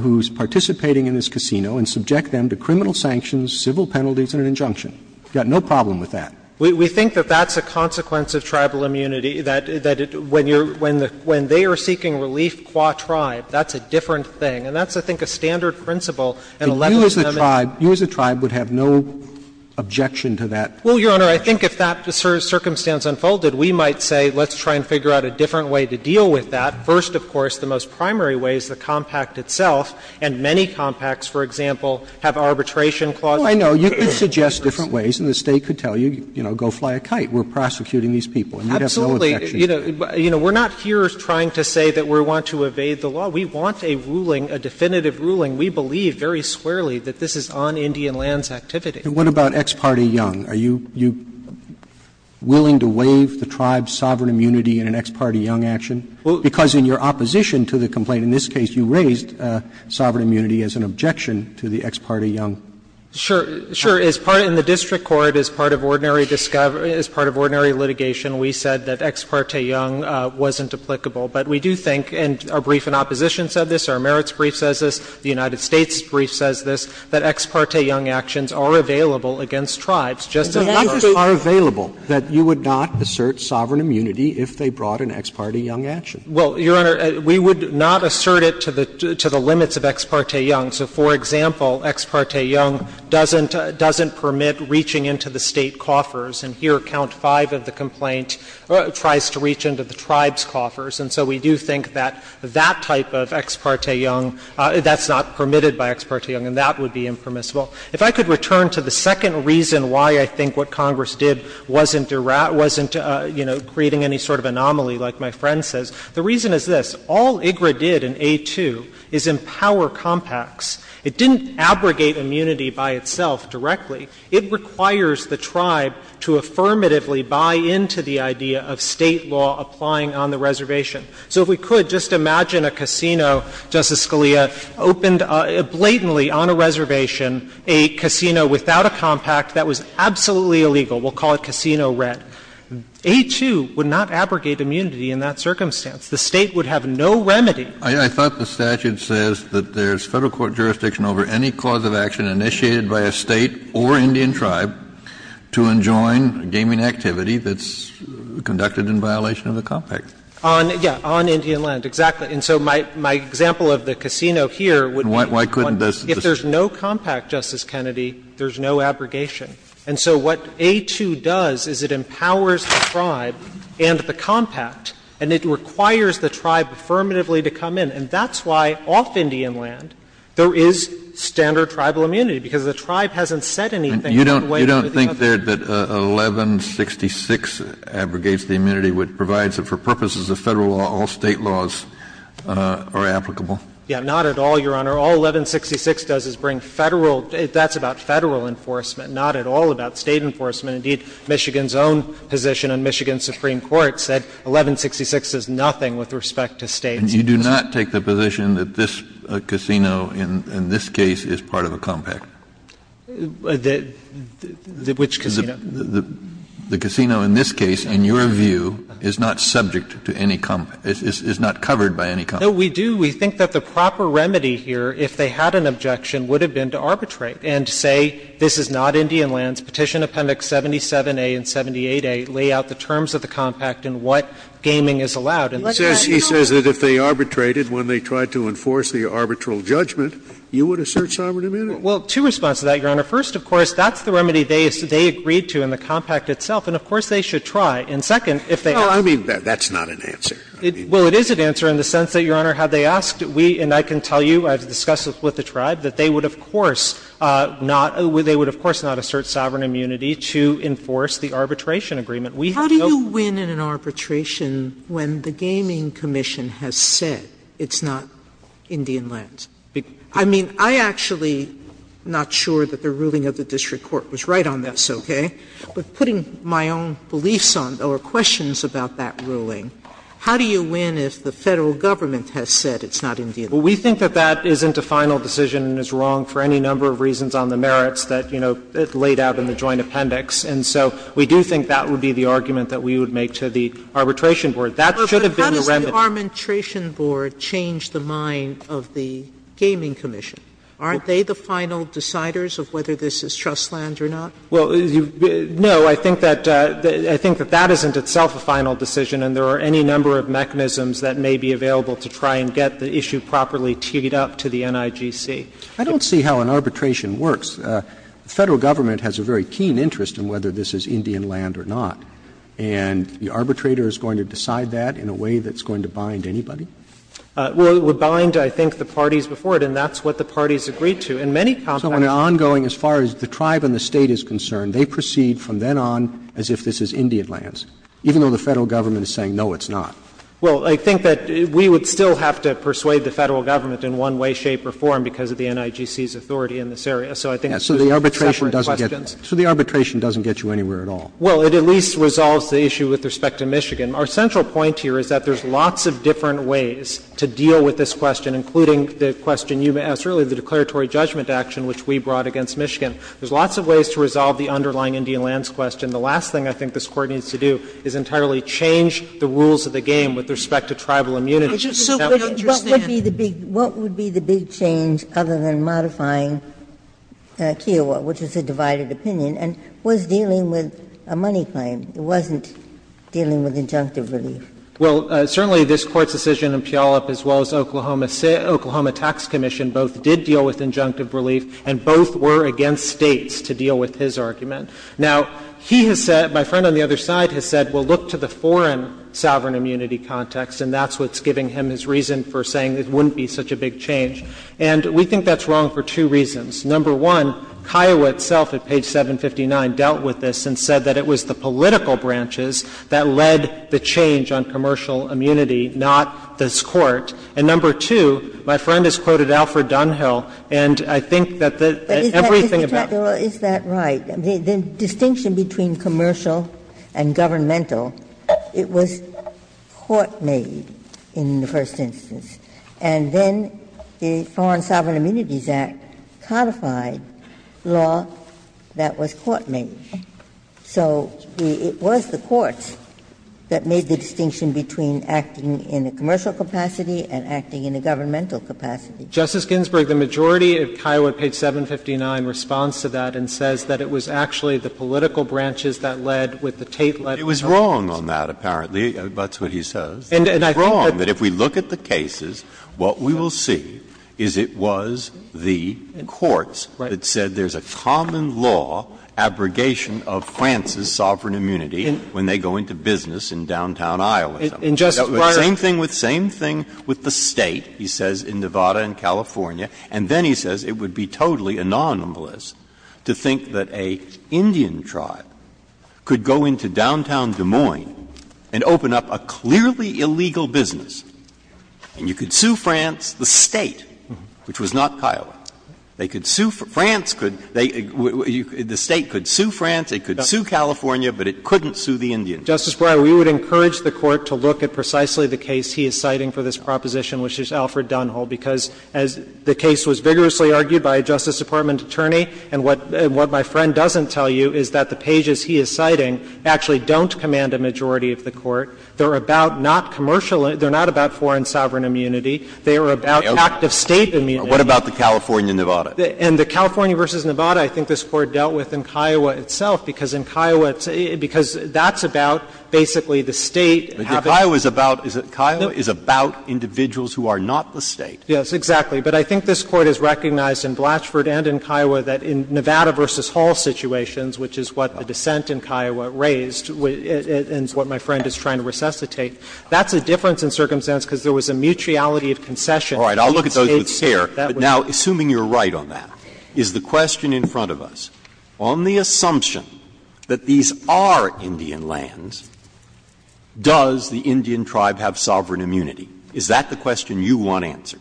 who's participating in this casino, and subject them to criminal sanctions, civil penalties, and an injunction. You've got no problem with that. We think that that's a consequence of tribal immunity, that when you're ‑‑ when they are seeking relief qua tribe, that's a different thing. And that's, I think, a standard principle in 11th Amendment. But you as a tribe would have no objection to that? Well, Your Honor, I think if that circumstance unfolded, we might say let's try and figure out a different way to deal with that. First, of course, the most primary way is the compact itself. And many compacts, for example, have arbitration clauses. Well, I know. You could suggest different ways, and the State could tell you, you know, go fly a kite. We're prosecuting these people. And you'd have no objection to that. Absolutely. You know, we're not here trying to say that we want to evade the law. We want a ruling, a definitive ruling. We believe very squarely that this is on Indian land's activity. And what about ex parte young? Are you willing to waive the tribe's sovereign immunity in an ex parte young action? Well, because in your opposition to the complaint, in this case you raised, you raised sovereign immunity as an objection to the ex parte young. Sure. Sure. As part of the district court, as part of ordinary discovery, as part of ordinary litigation, we said that ex parte young wasn't applicable. But we do think, and our brief in opposition said this, our merits brief says this, the United States brief says this, that ex parte young actions are available against tribes. Justice Sotomayor. But the factors are available that you would not assert sovereign immunity if they brought an ex parte young action. Well, Your Honor, we would not assert it to the limits of ex parte young. So, for example, ex parte young doesn't permit reaching into the State coffers. And here, count five of the complaint tries to reach into the Tribe's coffers. And so we do think that that type of ex parte young, that's not permitted by ex parte young, and that would be impermissible. If I could return to the second reason why I think what Congress did wasn't creating any sort of anomaly, like my friend says, the reason is this. All IGRA did in A-2 is empower compacts. It didn't abrogate immunity by itself directly. It requires the Tribe to affirmatively buy into the idea of State law applying on the reservation. So if we could, just imagine a casino, Justice Scalia, opened blatantly on a reservation, a casino without a compact, that was absolutely illegal. We'll call it Casino Red. A-2 would not abrogate immunity in that circumstance. The State would have no remedy. Kennedy, I thought the statute says that there's Federal court jurisdiction over any cause of action initiated by a State or Indian Tribe to enjoin gaming activity that's conducted in violation of the compact. On, yeah, on Indian land, exactly. And so my example of the casino here would be one. Why couldn't this? If there's no compact, Justice Kennedy, there's no abrogation. And so what A-2 does is it empowers the Tribe and the compact, and it requires the Tribe affirmatively to come in. And that's why off Indian land there is standard Tribal immunity, because the Tribe hasn't said anything in the way of the other. Kennedy, you don't think there that 1166 abrogates the immunity, which provides it for purposes of Federal law, all State laws are applicable? Yeah, not at all, Your Honor. All 1166 does is bring Federal – that's about Federal enforcement. Not at all about State enforcement. Indeed, Michigan's own position on Michigan's Supreme Court said 1166 is nothing with respect to State enforcement. Kennedy, you do not take the position that this casino in this case is part of a compact? Which casino? The casino in this case, in your view, is not subject to any compact, is not covered by any compact. No, we do. We think that the proper remedy here, if they had an objection, would have been to have Indian lands, Petition Appendix 77a and 78a, lay out the terms of the compact and what gaming is allowed. He says that if they arbitrated when they tried to enforce the arbitral judgment, you would assert sovereign immunity. Well, two responses to that, Your Honor. First, of course, that's the remedy they agreed to in the compact itself, and of course And second, if they ask you to do it, you should try to do it. Well, I mean, that's not an answer. Well, it is an answer in the sense that, Your Honor, had they asked, we and I can tell you, I've discussed it with the Tribe, that they would, of course, not – they would, of course, not assert sovereign immunity to enforce the arbitration agreement. Sotomayor, how do you win in an arbitration when the Gaming Commission has said it's not Indian lands? I mean, I'm actually not sure that the ruling of the district court was right on this, okay? But putting my own beliefs on or questions about that ruling, how do you win if the Federal Government has said it's not Indian lands? Well, we think that that isn't a final decision and is wrong for any number of reasons on the merits that, you know, it laid out in the joint appendix. And so we do think that would be the argument that we would make to the arbitration board. That should have been the remedy. But how does the arbitration board change the mind of the Gaming Commission? Aren't they the final deciders of whether this is trust land or not? Well, no, I think that – I think that that isn't itself a final decision, and there are any number of mechanisms that may be available to try and get the issue properly teed up to the NIGC. I don't see how an arbitration works. The Federal Government has a very keen interest in whether this is Indian land or not. And the arbitrator is going to decide that in a way that's going to bind anybody? Well, it would bind, I think, the parties before it, and that's what the parties agreed to. In many contexts – So an ongoing, as far as the tribe and the State is concerned, they proceed from then on as if this is Indian lands, even though the Federal Government is saying, no, it's not. Well, I think that we would still have to persuade the Federal Government in one way, shape, or form because of the NIGC's authority in this area. So I think there's separate questions. So the arbitration doesn't get – so the arbitration doesn't get you anywhere at all? Well, it at least resolves the issue with respect to Michigan. Our central point here is that there's lots of different ways to deal with this question, including the question you asked earlier, the declaratory judgment action which we brought against Michigan. There's lots of ways to resolve the underlying Indian lands question. The last thing I think this Court needs to do is entirely change the rules of the game with respect to tribal immunity. Ginsburg, what would be the big change other than modifying Kiowa, which is a divided opinion, and was dealing with a money claim? It wasn't dealing with injunctive relief. Well, certainly this Court's decision in Puyallup, as well as Oklahoma Tax Commission, both did deal with injunctive relief, and both were against States to deal with his argument. Now, he has said, my friend on the other side has said, well, look to the foreign sovereign immunity context, and that's what's giving him his reason for saying it wouldn't be such a big change. And we think that's wrong for two reasons. Number one, Kiowa itself at page 759 dealt with this and said that it was the political branches that led the change on commercial immunity, not this Court. And number two, my friend has quoted Alfred Dunhill, and I think that the everything about it. But is that right? The distinction between commercial and governmental, it was court-made in the first instance. And then the Foreign Sovereign Immunities Act codified law that was court-made. So it was the courts that made the distinction between acting in a commercial capacity and acting in a governmental capacity. Justice Ginsburg, the majority of Kiowa at page 759 responds to that and says that it was actually the political branches that led with the Tate-led policy. Breyer, it was wrong on that, apparently. That's what he says. It's wrong that if we look at the cases, what we will see is it was the courts that said there's a common law abrogation of France's sovereign immunity when they go into business in downtown Iowa. And just prior to that, the same thing with the State, he says, in Nevada and California and then he says it would be totally anonymous to think that an Indian tribe could go into downtown Des Moines and open up a clearly illegal business and you could sue France, the State, which was not Kiowa. They could sue France, the State could sue France, it could sue California, but it couldn't sue the Indian tribe. Justice Breyer, we would encourage the Court to look at precisely the case he is citing for this proposition, which is Alfred Dunhall, because as the case was vigorously argued by a Justice Department attorney, and what my friend doesn't tell you is that the pages he is citing actually don't command a majority of the Court. They are about not commercial immunity, they are not about foreign sovereign immunity, they are about active State immunity. Breyer, what about the California-Nevada? And the California v. Nevada, I think this Court dealt with in Kiowa itself, because in Kiowa it's – because that's about basically the State having to do with the individuals who are not the State. Yes, exactly. But I think this Court has recognized in Blatchford and in Kiowa that in Nevada v. Hall situations, which is what the dissent in Kiowa raised and what my friend is trying to resuscitate, that's a difference in circumstance because there was a mutuality of concession. All right. I'll look at those with care. But now, assuming you are right on that, is the question in front of us, on the assumption that these are Indian lands, does the Indian tribe have sovereign immunity? Is that the question you want answered?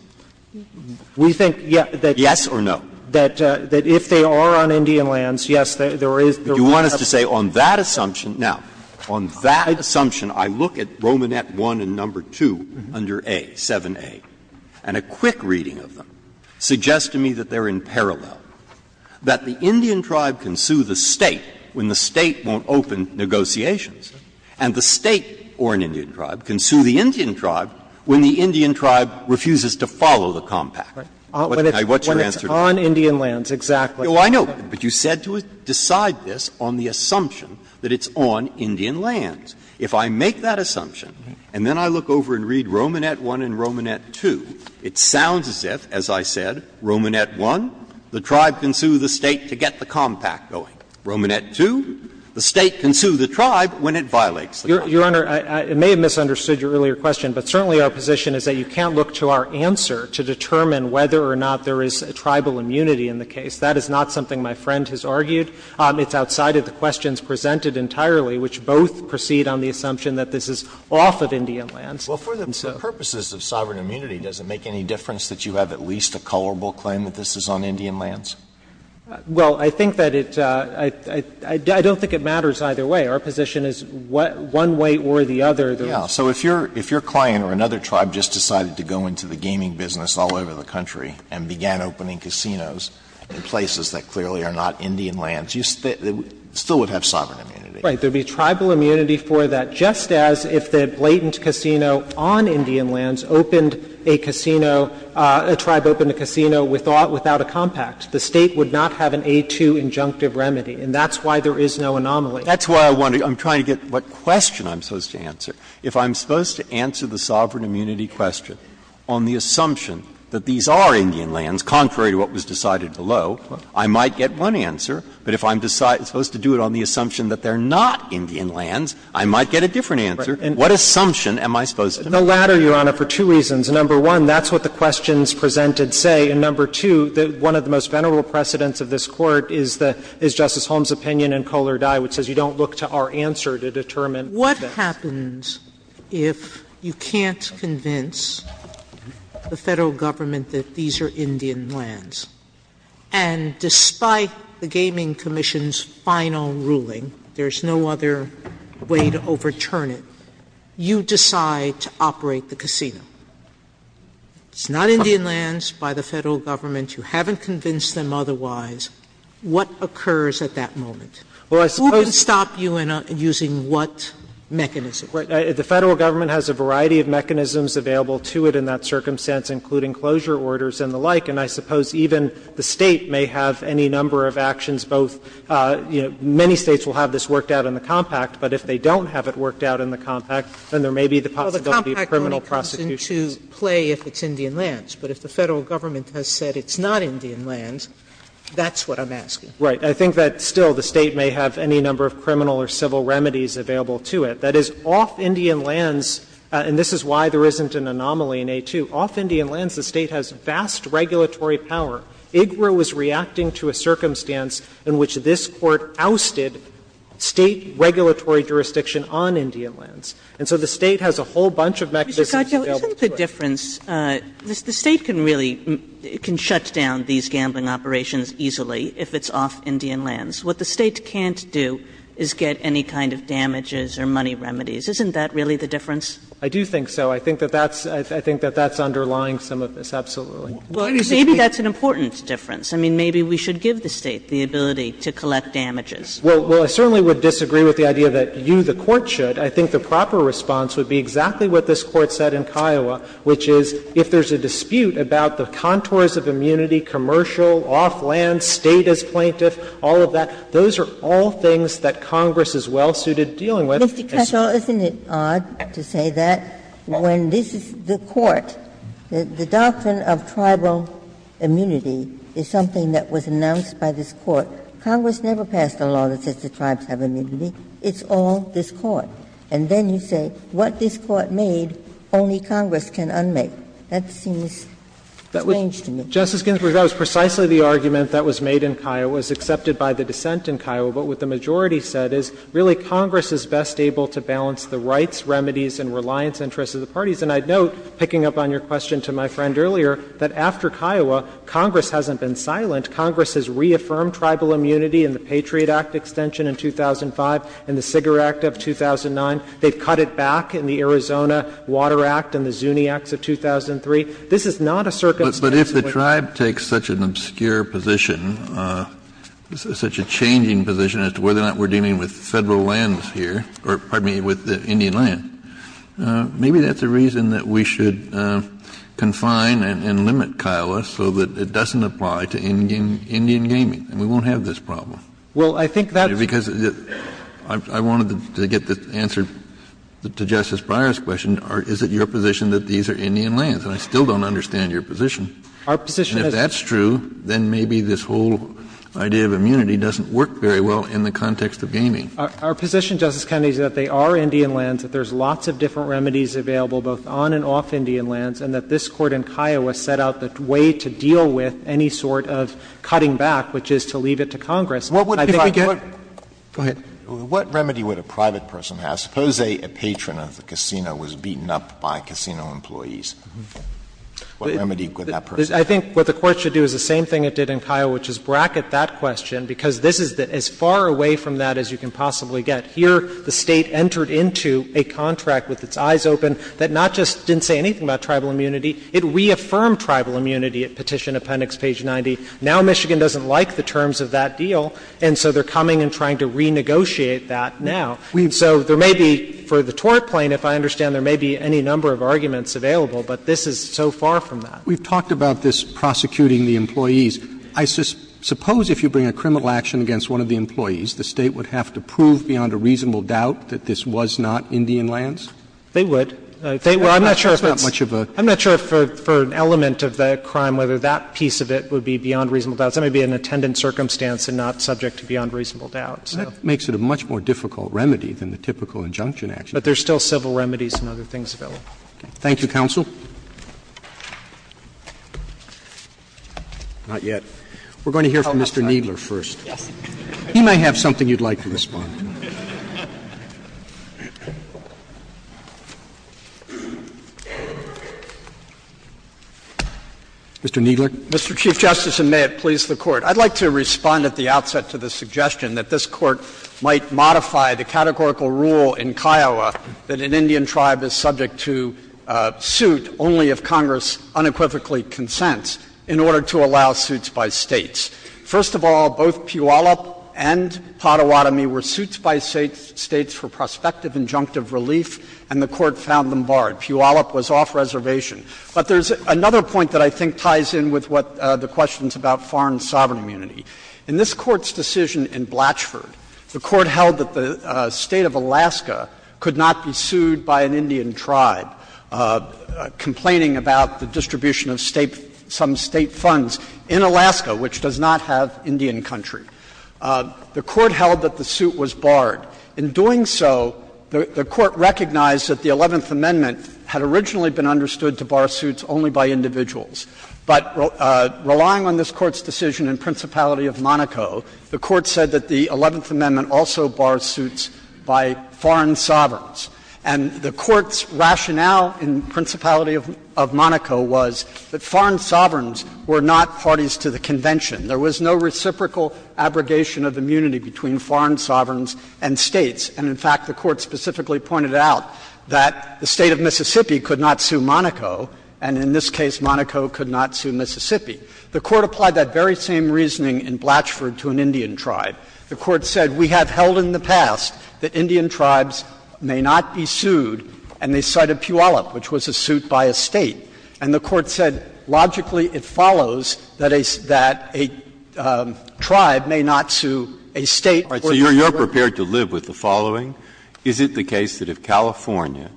We think that, yes or no, that if they are on Indian lands, yes, there is. But you want us to say on that assumption – now, on that assumption, I look at Romanet 1 and number 2 under A, 7A, and a quick reading of them suggests to me that they can sue the State when the State won't open negotiations, and the State, or an Indian tribe, can sue the Indian tribe when the Indian tribe refuses to follow the Compact. What's your answer to that? When it's on Indian lands, exactly. Well, I know, but you said to decide this on the assumption that it's on Indian lands. If I make that assumption and then I look over and read Romanet 1 and Romanet 2, it sounds as if, as I said, Romanet 1, the tribe can sue the State to get the Compact going. Romanet 2, the State can sue the tribe when it violates the Compact. Your Honor, I may have misunderstood your earlier question, but certainly our position is that you can't look to our answer to determine whether or not there is tribal immunity in the case. That is not something my friend has argued. It's outside of the questions presented entirely, which both proceed on the assumption that this is off of Indian lands. Alito, for the purposes of sovereign immunity, does it make any difference that you have at least a colorable claim that this is on Indian lands? Well, I think that it's – I don't think it matters either way. Our position is one way or the other. Yeah. So if your client or another tribe just decided to go into the gaming business all over the country and began opening casinos in places that clearly are not Indian lands, you still would have sovereign immunity. Right. There would be tribal immunity for that, just as if the blatant casino on Indian lands opened a casino, a tribe opened a casino without a Compact. The State would not have an A-2 injunctive remedy, and that's why there is no anomaly. That's why I'm trying to get what question I'm supposed to answer. If I'm supposed to answer the sovereign immunity question on the assumption that these are Indian lands, contrary to what was decided below, I might get one answer. But if I'm supposed to do it on the assumption that they're not Indian lands, I might get a different answer. What assumption am I supposed to make? The latter, Your Honor, for two reasons. Number one, that's what the questions presented say. And number two, one of the most venerable precedents of this Court is Justice Holmes' opinion in Kohler Dye, which says you don't look to our answer to determine what happens. Sotomayor, what happens if you can't convince the Federal Government that these are Indian lands? And despite the Gaming Commission's final ruling, there's no other way to overturn it, you decide to operate the casino? It's not Indian lands by the Federal Government. You haven't convinced them otherwise. What occurs at that moment? Who can stop you and using what mechanism? Right? The Federal Government has a variety of mechanisms available to it in that circumstance, including closure orders and the like. And I suppose even the State may have any number of actions, both, you know, many States will have this worked out in the compact, but if they don't have it worked out in the compact, then there may be the possibility of criminal prosecution. Sotomayor, the compact only comes into play if it's Indian lands. But if the Federal Government has said it's not Indian lands, that's what I'm asking. Right. I think that still the State may have any number of criminal or civil remedies available to it. That is, off Indian lands, and this is why there isn't an anomaly in A2, off Indian lands, the State has a whole bunch of mechanisms available to it. Mr. Gottlieb, isn't the difference, the State can really, can shut down these gambling operations easily if it's off Indian lands. What the State can't do is get any kind of damages or money remedies. Isn't that really the difference? I do think so. I think that that's, I think that that's underlying some of this, absolutely. Maybe that's an important difference. I mean, maybe we should give the State the ability to collect damages. Well, I certainly would disagree with the idea that you, the Court, should. I think the proper response would be exactly what this Court said in Kiowa, which is if there's a dispute about the contours of immunity, commercial, off land, State as plaintiff, all of that, those are all things that Congress is well-suited dealing with. Ginsburg. Mr. Kessler, isn't it odd to say that when this is the Court, the doctrine of tribal immunity is something that was announced by this Court. Congress never passed a law that says the tribes have immunity. It's all this Court. And then you say what this Court made, only Congress can unmake. That seems strange to me. Justice Ginsburg, that was precisely the argument that was made in Kiowa, was accepted by the dissent in Kiowa, but what the majority said is, really, Congress is best able to balance the rights, remedies, and reliance interests of the parties. And I'd note, picking up on your question to my friend earlier, that after Kiowa, Congress hasn't been silent. Congress has reaffirmed tribal immunity in the Patriot Act extension in 2005, in the Cigar Act of 2009. They've cut it back in the Arizona Water Act and the Zuni Acts of 2003. This is not a circumstance where they've cut it back. Kennedy, this is not such a changing position as to whether or not we're dealing with Federal lands here, or, pardon me, with Indian land. Maybe that's a reason that we should confine and limit Kiowa so that it doesn't apply to Indian gaming, and we won't have this problem. Well, I think that's the reason. Because I wanted to get the answer to Justice Breyer's question, is it your position that these are Indian lands? And I still don't understand your position. Our position is that's true. Then maybe this whole idea of immunity doesn't work very well in the context of gaming. Our position, Justice Kennedy, is that they are Indian lands, that there's lots of different remedies available both on and off Indian lands, and that this Court in Kiowa set out the way to deal with any sort of cutting back, which is to leave it to Congress. And I think we get what we're trying to do here. Go ahead. What remedy would a private person have? Suppose a patron of the casino was beaten up by casino employees. What remedy would that person have? I think what the Court should do is the same thing it did in Kiowa, which is bracket that question, because this is as far away from that as you can possibly get. Here, the State entered into a contract with its eyes open that not just didn't say anything about tribal immunity. It reaffirmed tribal immunity at Petition Appendix page 90. Now Michigan doesn't like the terms of that deal, and so they're coming and trying to renegotiate that now. So there may be, for the tort plain, if I understand, there may be any number of arguments available, but this is so far from that. We've talked about this prosecuting the employees. I suppose if you bring a criminal action against one of the employees, the State would have to prove beyond a reasonable doubt that this was not Indian lands? They would. They would. I'm not sure if it's not much of a — I'm not sure if for an element of that crime whether that piece of it would be beyond reasonable doubt. That may be an attendant circumstance and not subject to beyond reasonable doubt, so. That makes it a much more difficult remedy than the typical injunction action. But there's still civil remedies and other things available. Thank you, counsel. Not yet. We're going to hear from Mr. Kneedler first. He may have something you'd like to respond to. Mr. Kneedler. Mr. Chief Justice, and may it please the Court. I'd like to respond at the outset to the suggestion that this Court might modify the categorical rule in Kiowa that an Indian tribe is subject to suit only if Congress unequivocally consents in order to allow suits by States. First of all, both Puyallup and Pottawatomie were suits by States for prospective injunctive relief, and the Court found them barred. Puyallup was off reservation. But there's another point that I think ties in with what the question's about foreign sovereign immunity. In this Court's decision in Blatchford, the Court held that the State of Alaska could not be sued by an Indian tribe, complaining about the distribution of State — some State funds in Alaska, which does not have Indian country. The Court held that the suit was barred. In doing so, the Court recognized that the Eleventh Amendment had originally been understood to bar suits only by individuals. But relying on this Court's decision in Principality of Monaco, the Court said that the Eleventh Amendment also bars suits by foreign sovereigns. And the Court's rationale in Principality of Monaco was that foreign sovereigns were not parties to the Convention. There was no reciprocal abrogation of immunity between foreign sovereigns and States. And in fact, the Court specifically pointed out that the State of Mississippi could not sue Monaco. And in this case, Monaco could not sue Mississippi. The Court applied that very same reasoning in Blatchford to an Indian tribe. The Court said, we have held in the past that Indian tribes may not be sued, and they cited Puyallup, which was a suit by a State. And the Court said, logically, it follows that a tribe may not sue a State or a foreign sovereign. Breyer, you're prepared to live with the following. Is it the case that if California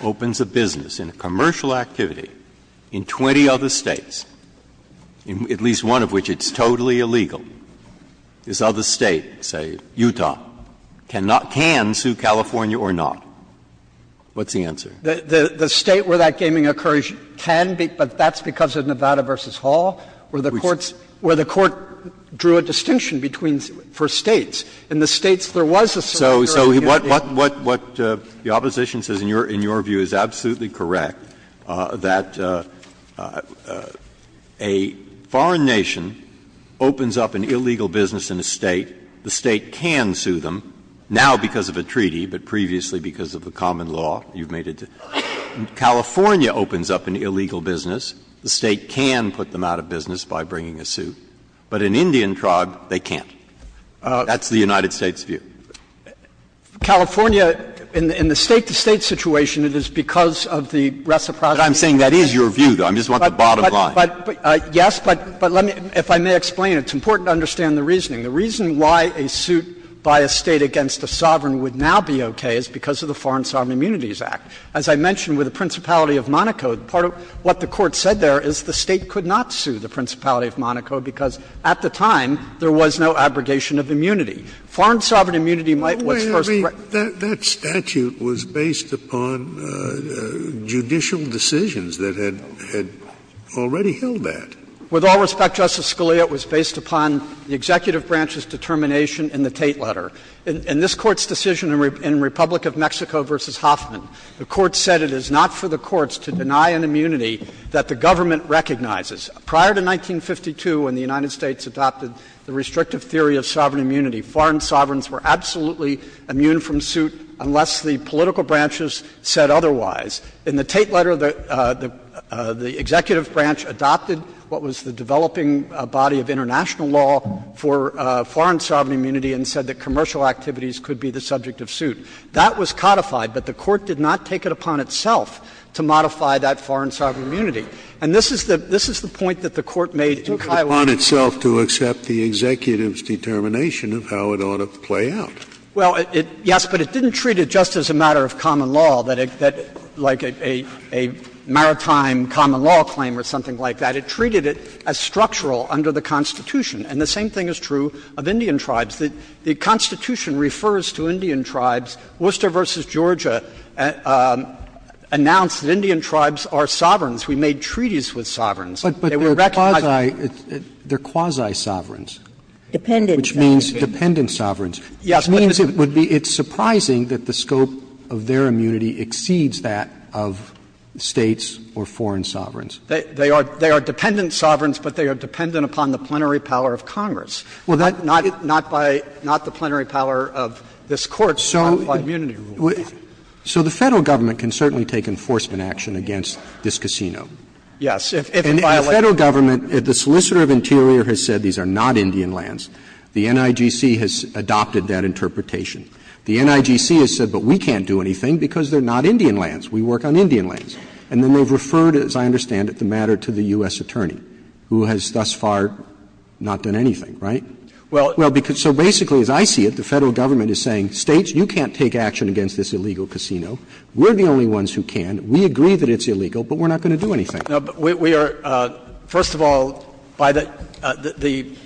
opens a business in a commercial activity in 20 other States, at least one of which it's totally illegal, this other State, say, Utah, cannot can sue California or not? What's the answer? The State where that gaming occurs can, but that's because of Nevada v. Hall, where the Court drew a distinction between the first States. In the States, there was a sovereign guarantee. Breyer, what the opposition says in your view is absolutely correct, that a foreign nation opens up an illegal business in a State, the State can sue them, now because of a treaty, but previously because of the common law you've made it to. California opens up an illegal business, the State can put them out of business by bringing a suit, but an Indian tribe, they can't. That's the United States' view. California, in the State-to-State situation, it is because of the reciprocity of the State. Breyer, I'm saying that is your view, though. I just want the bottom line. Yes, but let me, if I may explain, it's important to understand the reasoning. The reason why a suit by a State against a sovereign would now be okay is because of the Foreign Sovereign Immunities Act. As I mentioned with the Principality of Monaco, part of what the Court said there is the State could not sue the Principality of Monaco because, at the time, there was no abrogation of immunity. Foreign sovereign immunity might, what's first, correct. Scalia, that statute was based upon judicial decisions that had already held that. With all respect, Justice Scalia, it was based upon the executive branch's determination in the Tate letter. In this Court's decision in Republic of Mexico v. Hoffman, the Court said it is not for the courts to deny an immunity that the government recognizes. Prior to 1952, when the United States adopted the restrictive theory of sovereign immunity, foreign sovereigns were absolutely immune from suit unless the political branches said otherwise. In the Tate letter, the executive branch adopted what was the developing body of international law for foreign sovereign immunity and said that commercial activities could be the subject of suit. That was codified, but the Court did not take it upon itself to modify that foreign sovereign immunity. And this is the point that the Court made in Kiowa. Scalia, it took it upon itself to accept the executive's determination of how it ought to play out. Well, yes, but it didn't treat it just as a matter of common law, like a maritime common law claim or something like that. It treated it as structural under the Constitution. And the same thing is true of Indian tribes. The Constitution refers to Indian tribes. Worcester v. Georgia announced that Indian tribes are sovereigns. We made treaties with sovereigns. They were recognized. Roberts. They are quasi-sovereigns. Dependent sovereigns. Which means dependent sovereigns. Yes, but it's surprising that the scope of their immunity exceeds that of States or foreign sovereigns. They are dependent sovereigns, but they are dependent upon the plenary power of Congress. Well, that's not by the plenary power of this Court's common law immunity rule. So the Federal government can certainly take enforcement action against this casino. Yes. And the Federal government, if the solicitor of interior has said these are not Indian lands, the NIGC has adopted that interpretation. The NIGC has said, but we can't do anything because they are not Indian lands. We work on Indian lands. And then they have referred, as I understand it, the matter to the U.S. attorney, who has thus far not done anything. Right? Well, because so basically, as I see it, the Federal government is saying, States, you can't take action against this illegal casino. We are the only ones who can. We agree that it's illegal, but we are not going to do anything. No, but we are, first of all, by the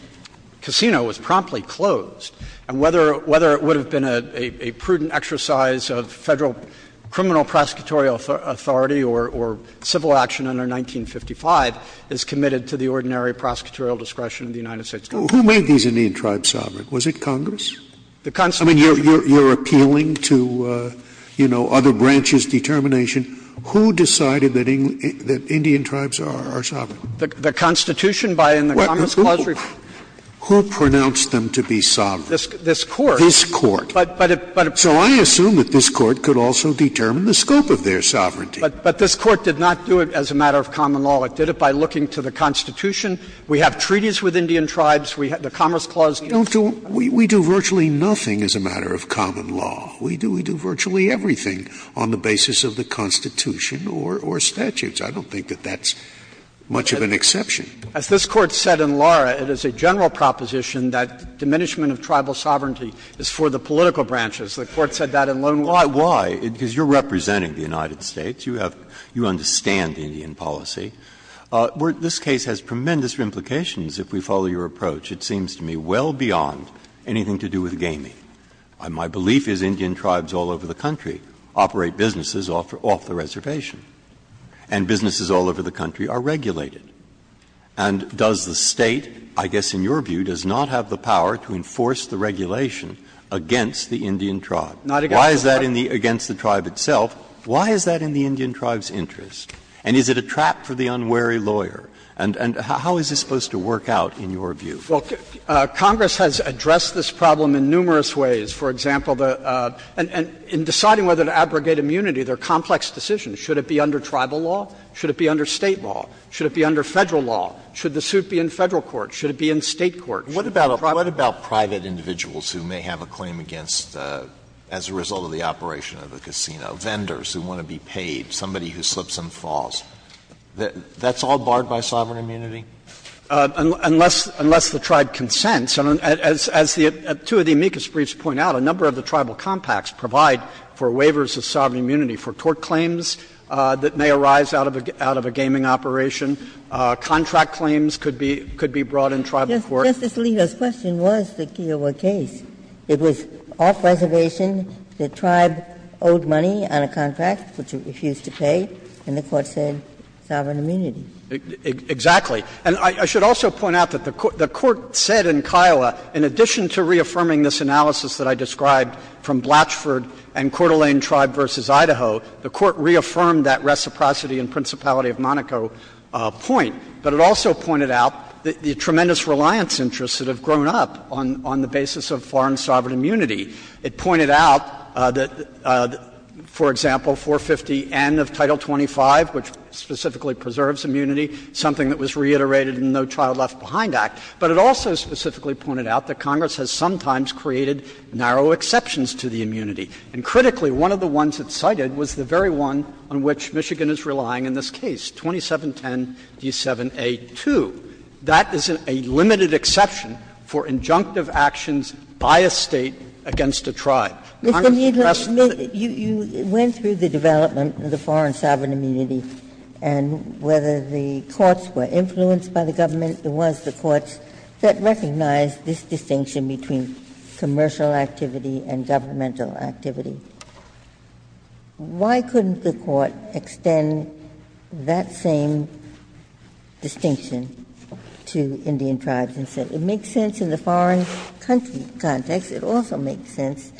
casino was promptly closed and whether it would have been a prudent exercise of Federal criminal prosecutorial authority or civil States. Who made these Indian tribes sovereign? Was it Congress? The Constitution. I mean, you are appealing to, you know, other branches' determination. Who decided that Indian tribes are sovereign? The Constitution by in the Congress clause. Who pronounced them to be sovereign? This Court. This Court. But it, but it. So I assume that this Court could also determine the scope of their sovereignty. But this Court did not do it as a matter of common law. It did it by looking to the Constitution. We have treaties with Indian tribes. We have the Commerce Clause. Scalia. Scalia. We do virtually nothing as a matter of common law. We do, we do virtually everything on the basis of the Constitution or, or statutes. I don't think that that's much of an exception. As this Court said in Lara, it is a general proposition that diminishment of tribal sovereignty is for the political branches. The Court said that in Lone Wolf. Why? Because you are representing the United States. You have, you understand the Indian policy. This case has tremendous implications if we follow your approach. It seems to me well beyond anything to do with gaming. My belief is Indian tribes all over the country operate businesses off the reservation and businesses all over the country are regulated. And does the State, I guess in your view, does not have the power to enforce the regulation against the Indian tribe? Why is that in the, against the tribe itself? Why is that in the Indian tribe's interest? And is it a trap for the unwary lawyer? And, and how is this supposed to work out in your view? Well, Congress has addressed this problem in numerous ways. For example, the and, and in deciding whether to abrogate immunity, there are complex decisions. Should it be under tribal law? Should it be under State law? Should it be under Federal law? Should the suit be in Federal court? Should it be in State court? What about a private? What about private individuals who may have a claim against, as a result of the operation of the casino? Vendors who want to be paid, somebody who slips and falls. That's all barred by sovereign immunity? Unless, unless the tribe consents. As, as the two of the amicus briefs point out, a number of the tribal compacts provide for waivers of sovereign immunity for tort claims that may arise out of a, out of a gaming operation. Contract claims could be, could be brought in tribal court. Justice Alito's question was the Kiowa case. It was off-reservation. The tribe owed money on a contract, which it refused to pay, and the Court said sovereign immunity. Exactly. And I should also point out that the Court said in Kiowa, in addition to reaffirming this analysis that I described from Blatchford and Coeur d'Alene Tribe v. Idaho, the Court reaffirmed that reciprocity and principality of Monaco point. But it also pointed out the tremendous reliance interests that have grown up on, on the basis of foreign sovereign immunity. It pointed out that, for example, 450N of Title 25, which specifically preserves immunity, something that was reiterated in the No Child Left Behind Act. But it also specifically pointed out that Congress has sometimes created narrow exceptions to the immunity. And critically, one of the ones it cited was the very one on which Michigan is relying in this case, 2710d7a2. That is a limited exception for injunctive actions by a State against a tribe. I'm not suggesting that the Court should have a narrow exception to that. Ginsburg. You went through the development of the foreign sovereign immunity, and whether the courts were influenced by the government, it was the courts that recognized this distinction between commercial activity and governmental activity. Why couldn't the Court extend that same distinction? It makes sense in the foreign country context. It also makes sense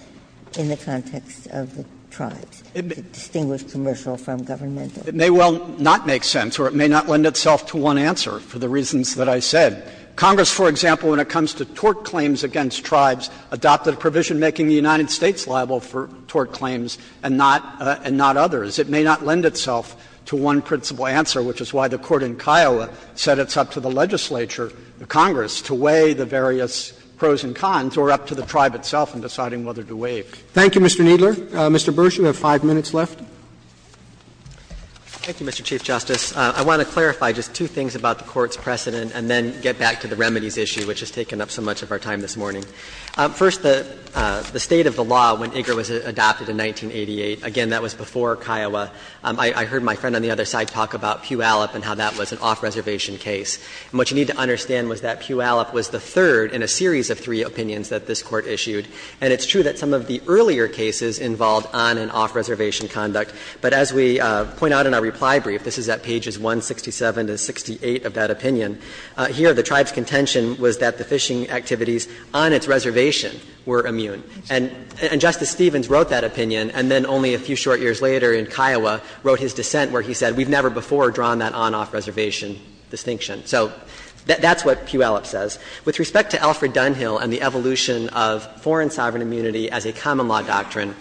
in the context of the tribes, the distinguished commercial from governmental. It may well not make sense, or it may not lend itself to one answer, for the reasons that I said. Congress, for example, when it comes to tort claims against tribes, adopted a provision making the United States liable for tort claims and not others. It may not lend itself to one principal answer, which is why the Court in Kiowa said it's up to the legislature, the Congress, to weigh the various pros and cons, or up to the tribe itself in deciding whether to waive. Roberts. Thank you, Mr. Kneedler. Mr. Bursch, you have 5 minutes left. Bursch. Thank you, Mr. Chief Justice. I want to clarify just two things about the Court's precedent and then get back to the remedies issue, which has taken up so much of our time this morning. First, the State of the law when IGER was adopted in 1988, again, that was before Kiowa. I heard my friend on the other side talk about Puyallup and how that was an off-reservation case. And what you need to understand was that Puyallup was the third in a series of three opinions that this Court issued. And it's true that some of the earlier cases involved on and off-reservation conduct. But as we point out in our reply brief, this is at pages 167 to 68 of that opinion, here the tribe's contention was that the fishing activities on its reservation were immune. And Justice Stevens wrote that opinion, and then only a few short years later in Kiowa wrote his dissent where he said, we've never before drawn that on-off-reservation distinction. So that's what Puyallup says. With respect to Alfred Dunhill and the evolution of foreign sovereign immunity as a common law doctrine,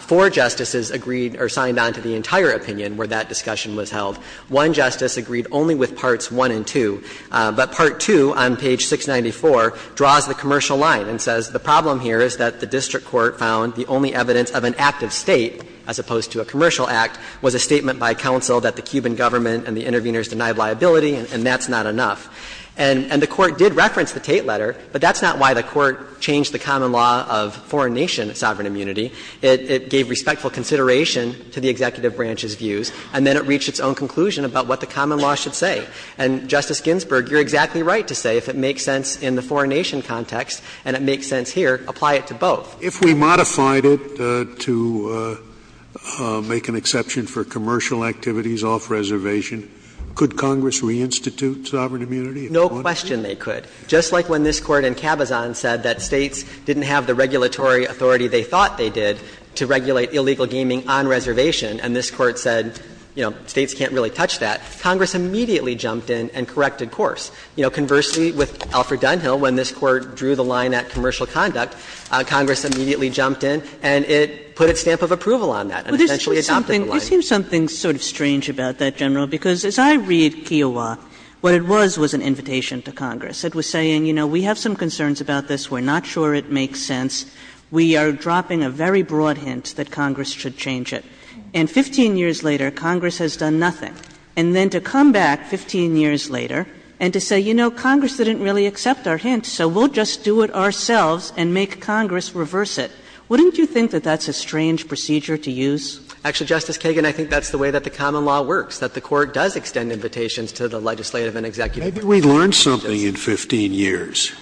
four justices agreed or signed on to the entire opinion where that discussion was held. One justice agreed only with parts 1 and 2, but part 2 on page 694 draws the commercial line and says the problem here is that the district court found the only evidence of an active State, as opposed to a commercial Act, was a statement by counsel that the Cuban government and the interveners denied liability, and that's not enough. And the Court did reference the Tate letter, but that's not why the Court changed the common law of foreign nation sovereign immunity. It gave respectful consideration to the executive branch's views, and then it reached its own conclusion about what the common law should say. And, Justice Ginsburg, you're exactly right to say if it makes sense in the foreign nation context and it makes sense here, apply it to both. If we modified it to make an exception for commercial activities off-reservation, could Congress reinstitute sovereign immunity? No question they could. Just like when this Court in Cabazon said that States didn't have the regulatory authority they thought they did to regulate illegal gaming on reservation, and this Court said, you know, States can't really touch that, Congress immediately jumped in and corrected course. You know, conversely, with Alfred Dunhill, when this Court drew the line at commercial conduct, Congress immediately jumped in and it put a stamp of approval on that and essentially adopted the line. Kagan. But there seems something sort of strange about that, General, because as I read Kiowa, what it was was an invitation to Congress. It was saying, you know, we have some concerns about this, we're not sure it makes sense, we are dropping a very broad hint that Congress should change it. And 15 years later, Congress has done nothing. And then to come back 15 years later and to say, you know, Congress didn't really accept our hint, so we'll just do it ourselves and make Congress reverse it, wouldn't you think that that's a strange procedure to use? Actually, Justice Kagan, I think that's the way that the common law works, that the Court does extend invitations to the legislative and executive branches. Maybe we learned something in 15 years.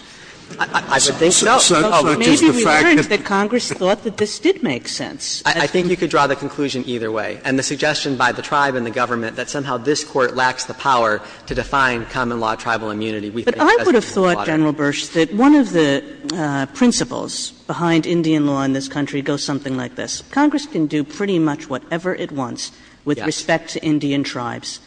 I would think so. But maybe we learned that Congress thought that this did make sense. I think you could draw the conclusion either way. And the suggestion by the tribe and the government that somehow this Court lacks the power to define common law tribal immunity, we think does make sense. But I would have thought, General Bursch, that one of the principles behind Indian law in this country goes something like this. Congress can do pretty much whatever it wants with respect to Indian tribes,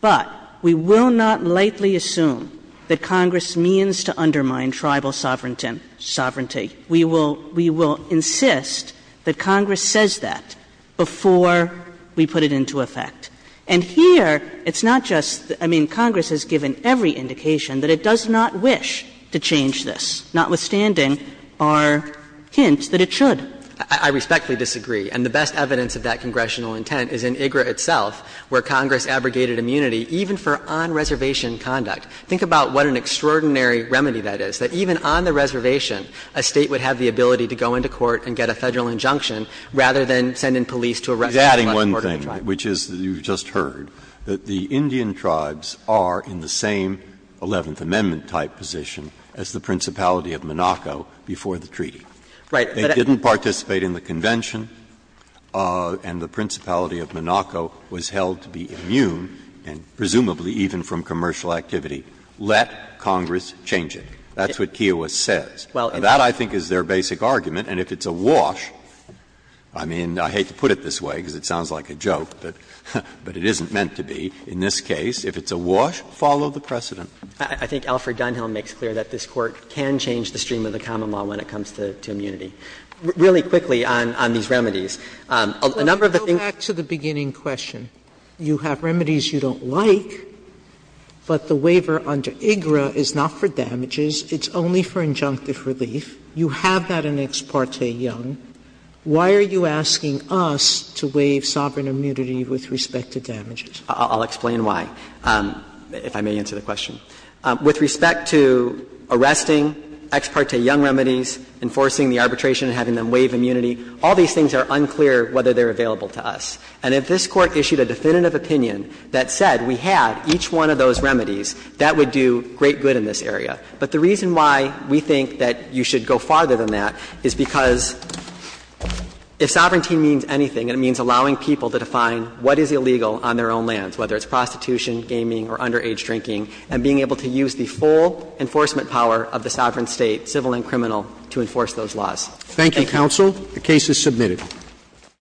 but we will not lightly assume that Congress means to undermine tribal sovereignty. We will insist that Congress says that before we put it into effect. And here, it's not just the – I mean, Congress has given every indication that it does not wish to change this, notwithstanding our hint that it should. I respectfully disagree. And the best evidence of that congressional intent is in IGRA itself, where Congress abrogated immunity even for on-reservation conduct. Think about what an extraordinary remedy that is, that even on the reservation, a State would have the ability to go into court and get a Federal injunction rather than send in police to arrest a member of the tribal tribe. Now, I'd like to also add, General Bursch, to one thing, which is you've just heard, that the Indian tribes are in the same Eleventh Amendment-type position as the Principality of Monaco before the treaty. They didn't participate in the convention, and the Principality of Monaco was held to be immune, presumably even from commercial activity. Let Congress change it. That's what Kiowa says. Now, that, I think, is their basic argument, and if it's a wash, I mean, I hate to put it this way, because it sounds like a joke, but it isn't meant to be, in this case, if it's a wash, follow the precedent. I think Alfred Dunhill makes clear that this Court can change the stream of the common law when it comes to immunity. Really quickly on these remedies, a number of the things that we've talked about in the past. Sotomayor, you have remedies you don't like, but the waiver under IGRA is not for relief. You have that in Ex parte Young. Why are you asking us to waive sovereign immunity with respect to damages? I'll explain why, if I may answer the question. With respect to arresting Ex parte Young remedies, enforcing the arbitration and having them waive immunity, all these things are unclear whether they're available to us. And if this Court issued a definitive opinion that said we had each one of those remedies, that would do great good in this area. But the reason why we think that you should go farther than that is because if sovereignty means anything, it means allowing people to define what is illegal on their own lands, whether it's prostitution, gaming, or underage drinking, and being able to use the full enforcement power of the sovereign State, civil and criminal, to enforce those laws. Thank you. Roberts. Thank you, counsel. The case is submitted.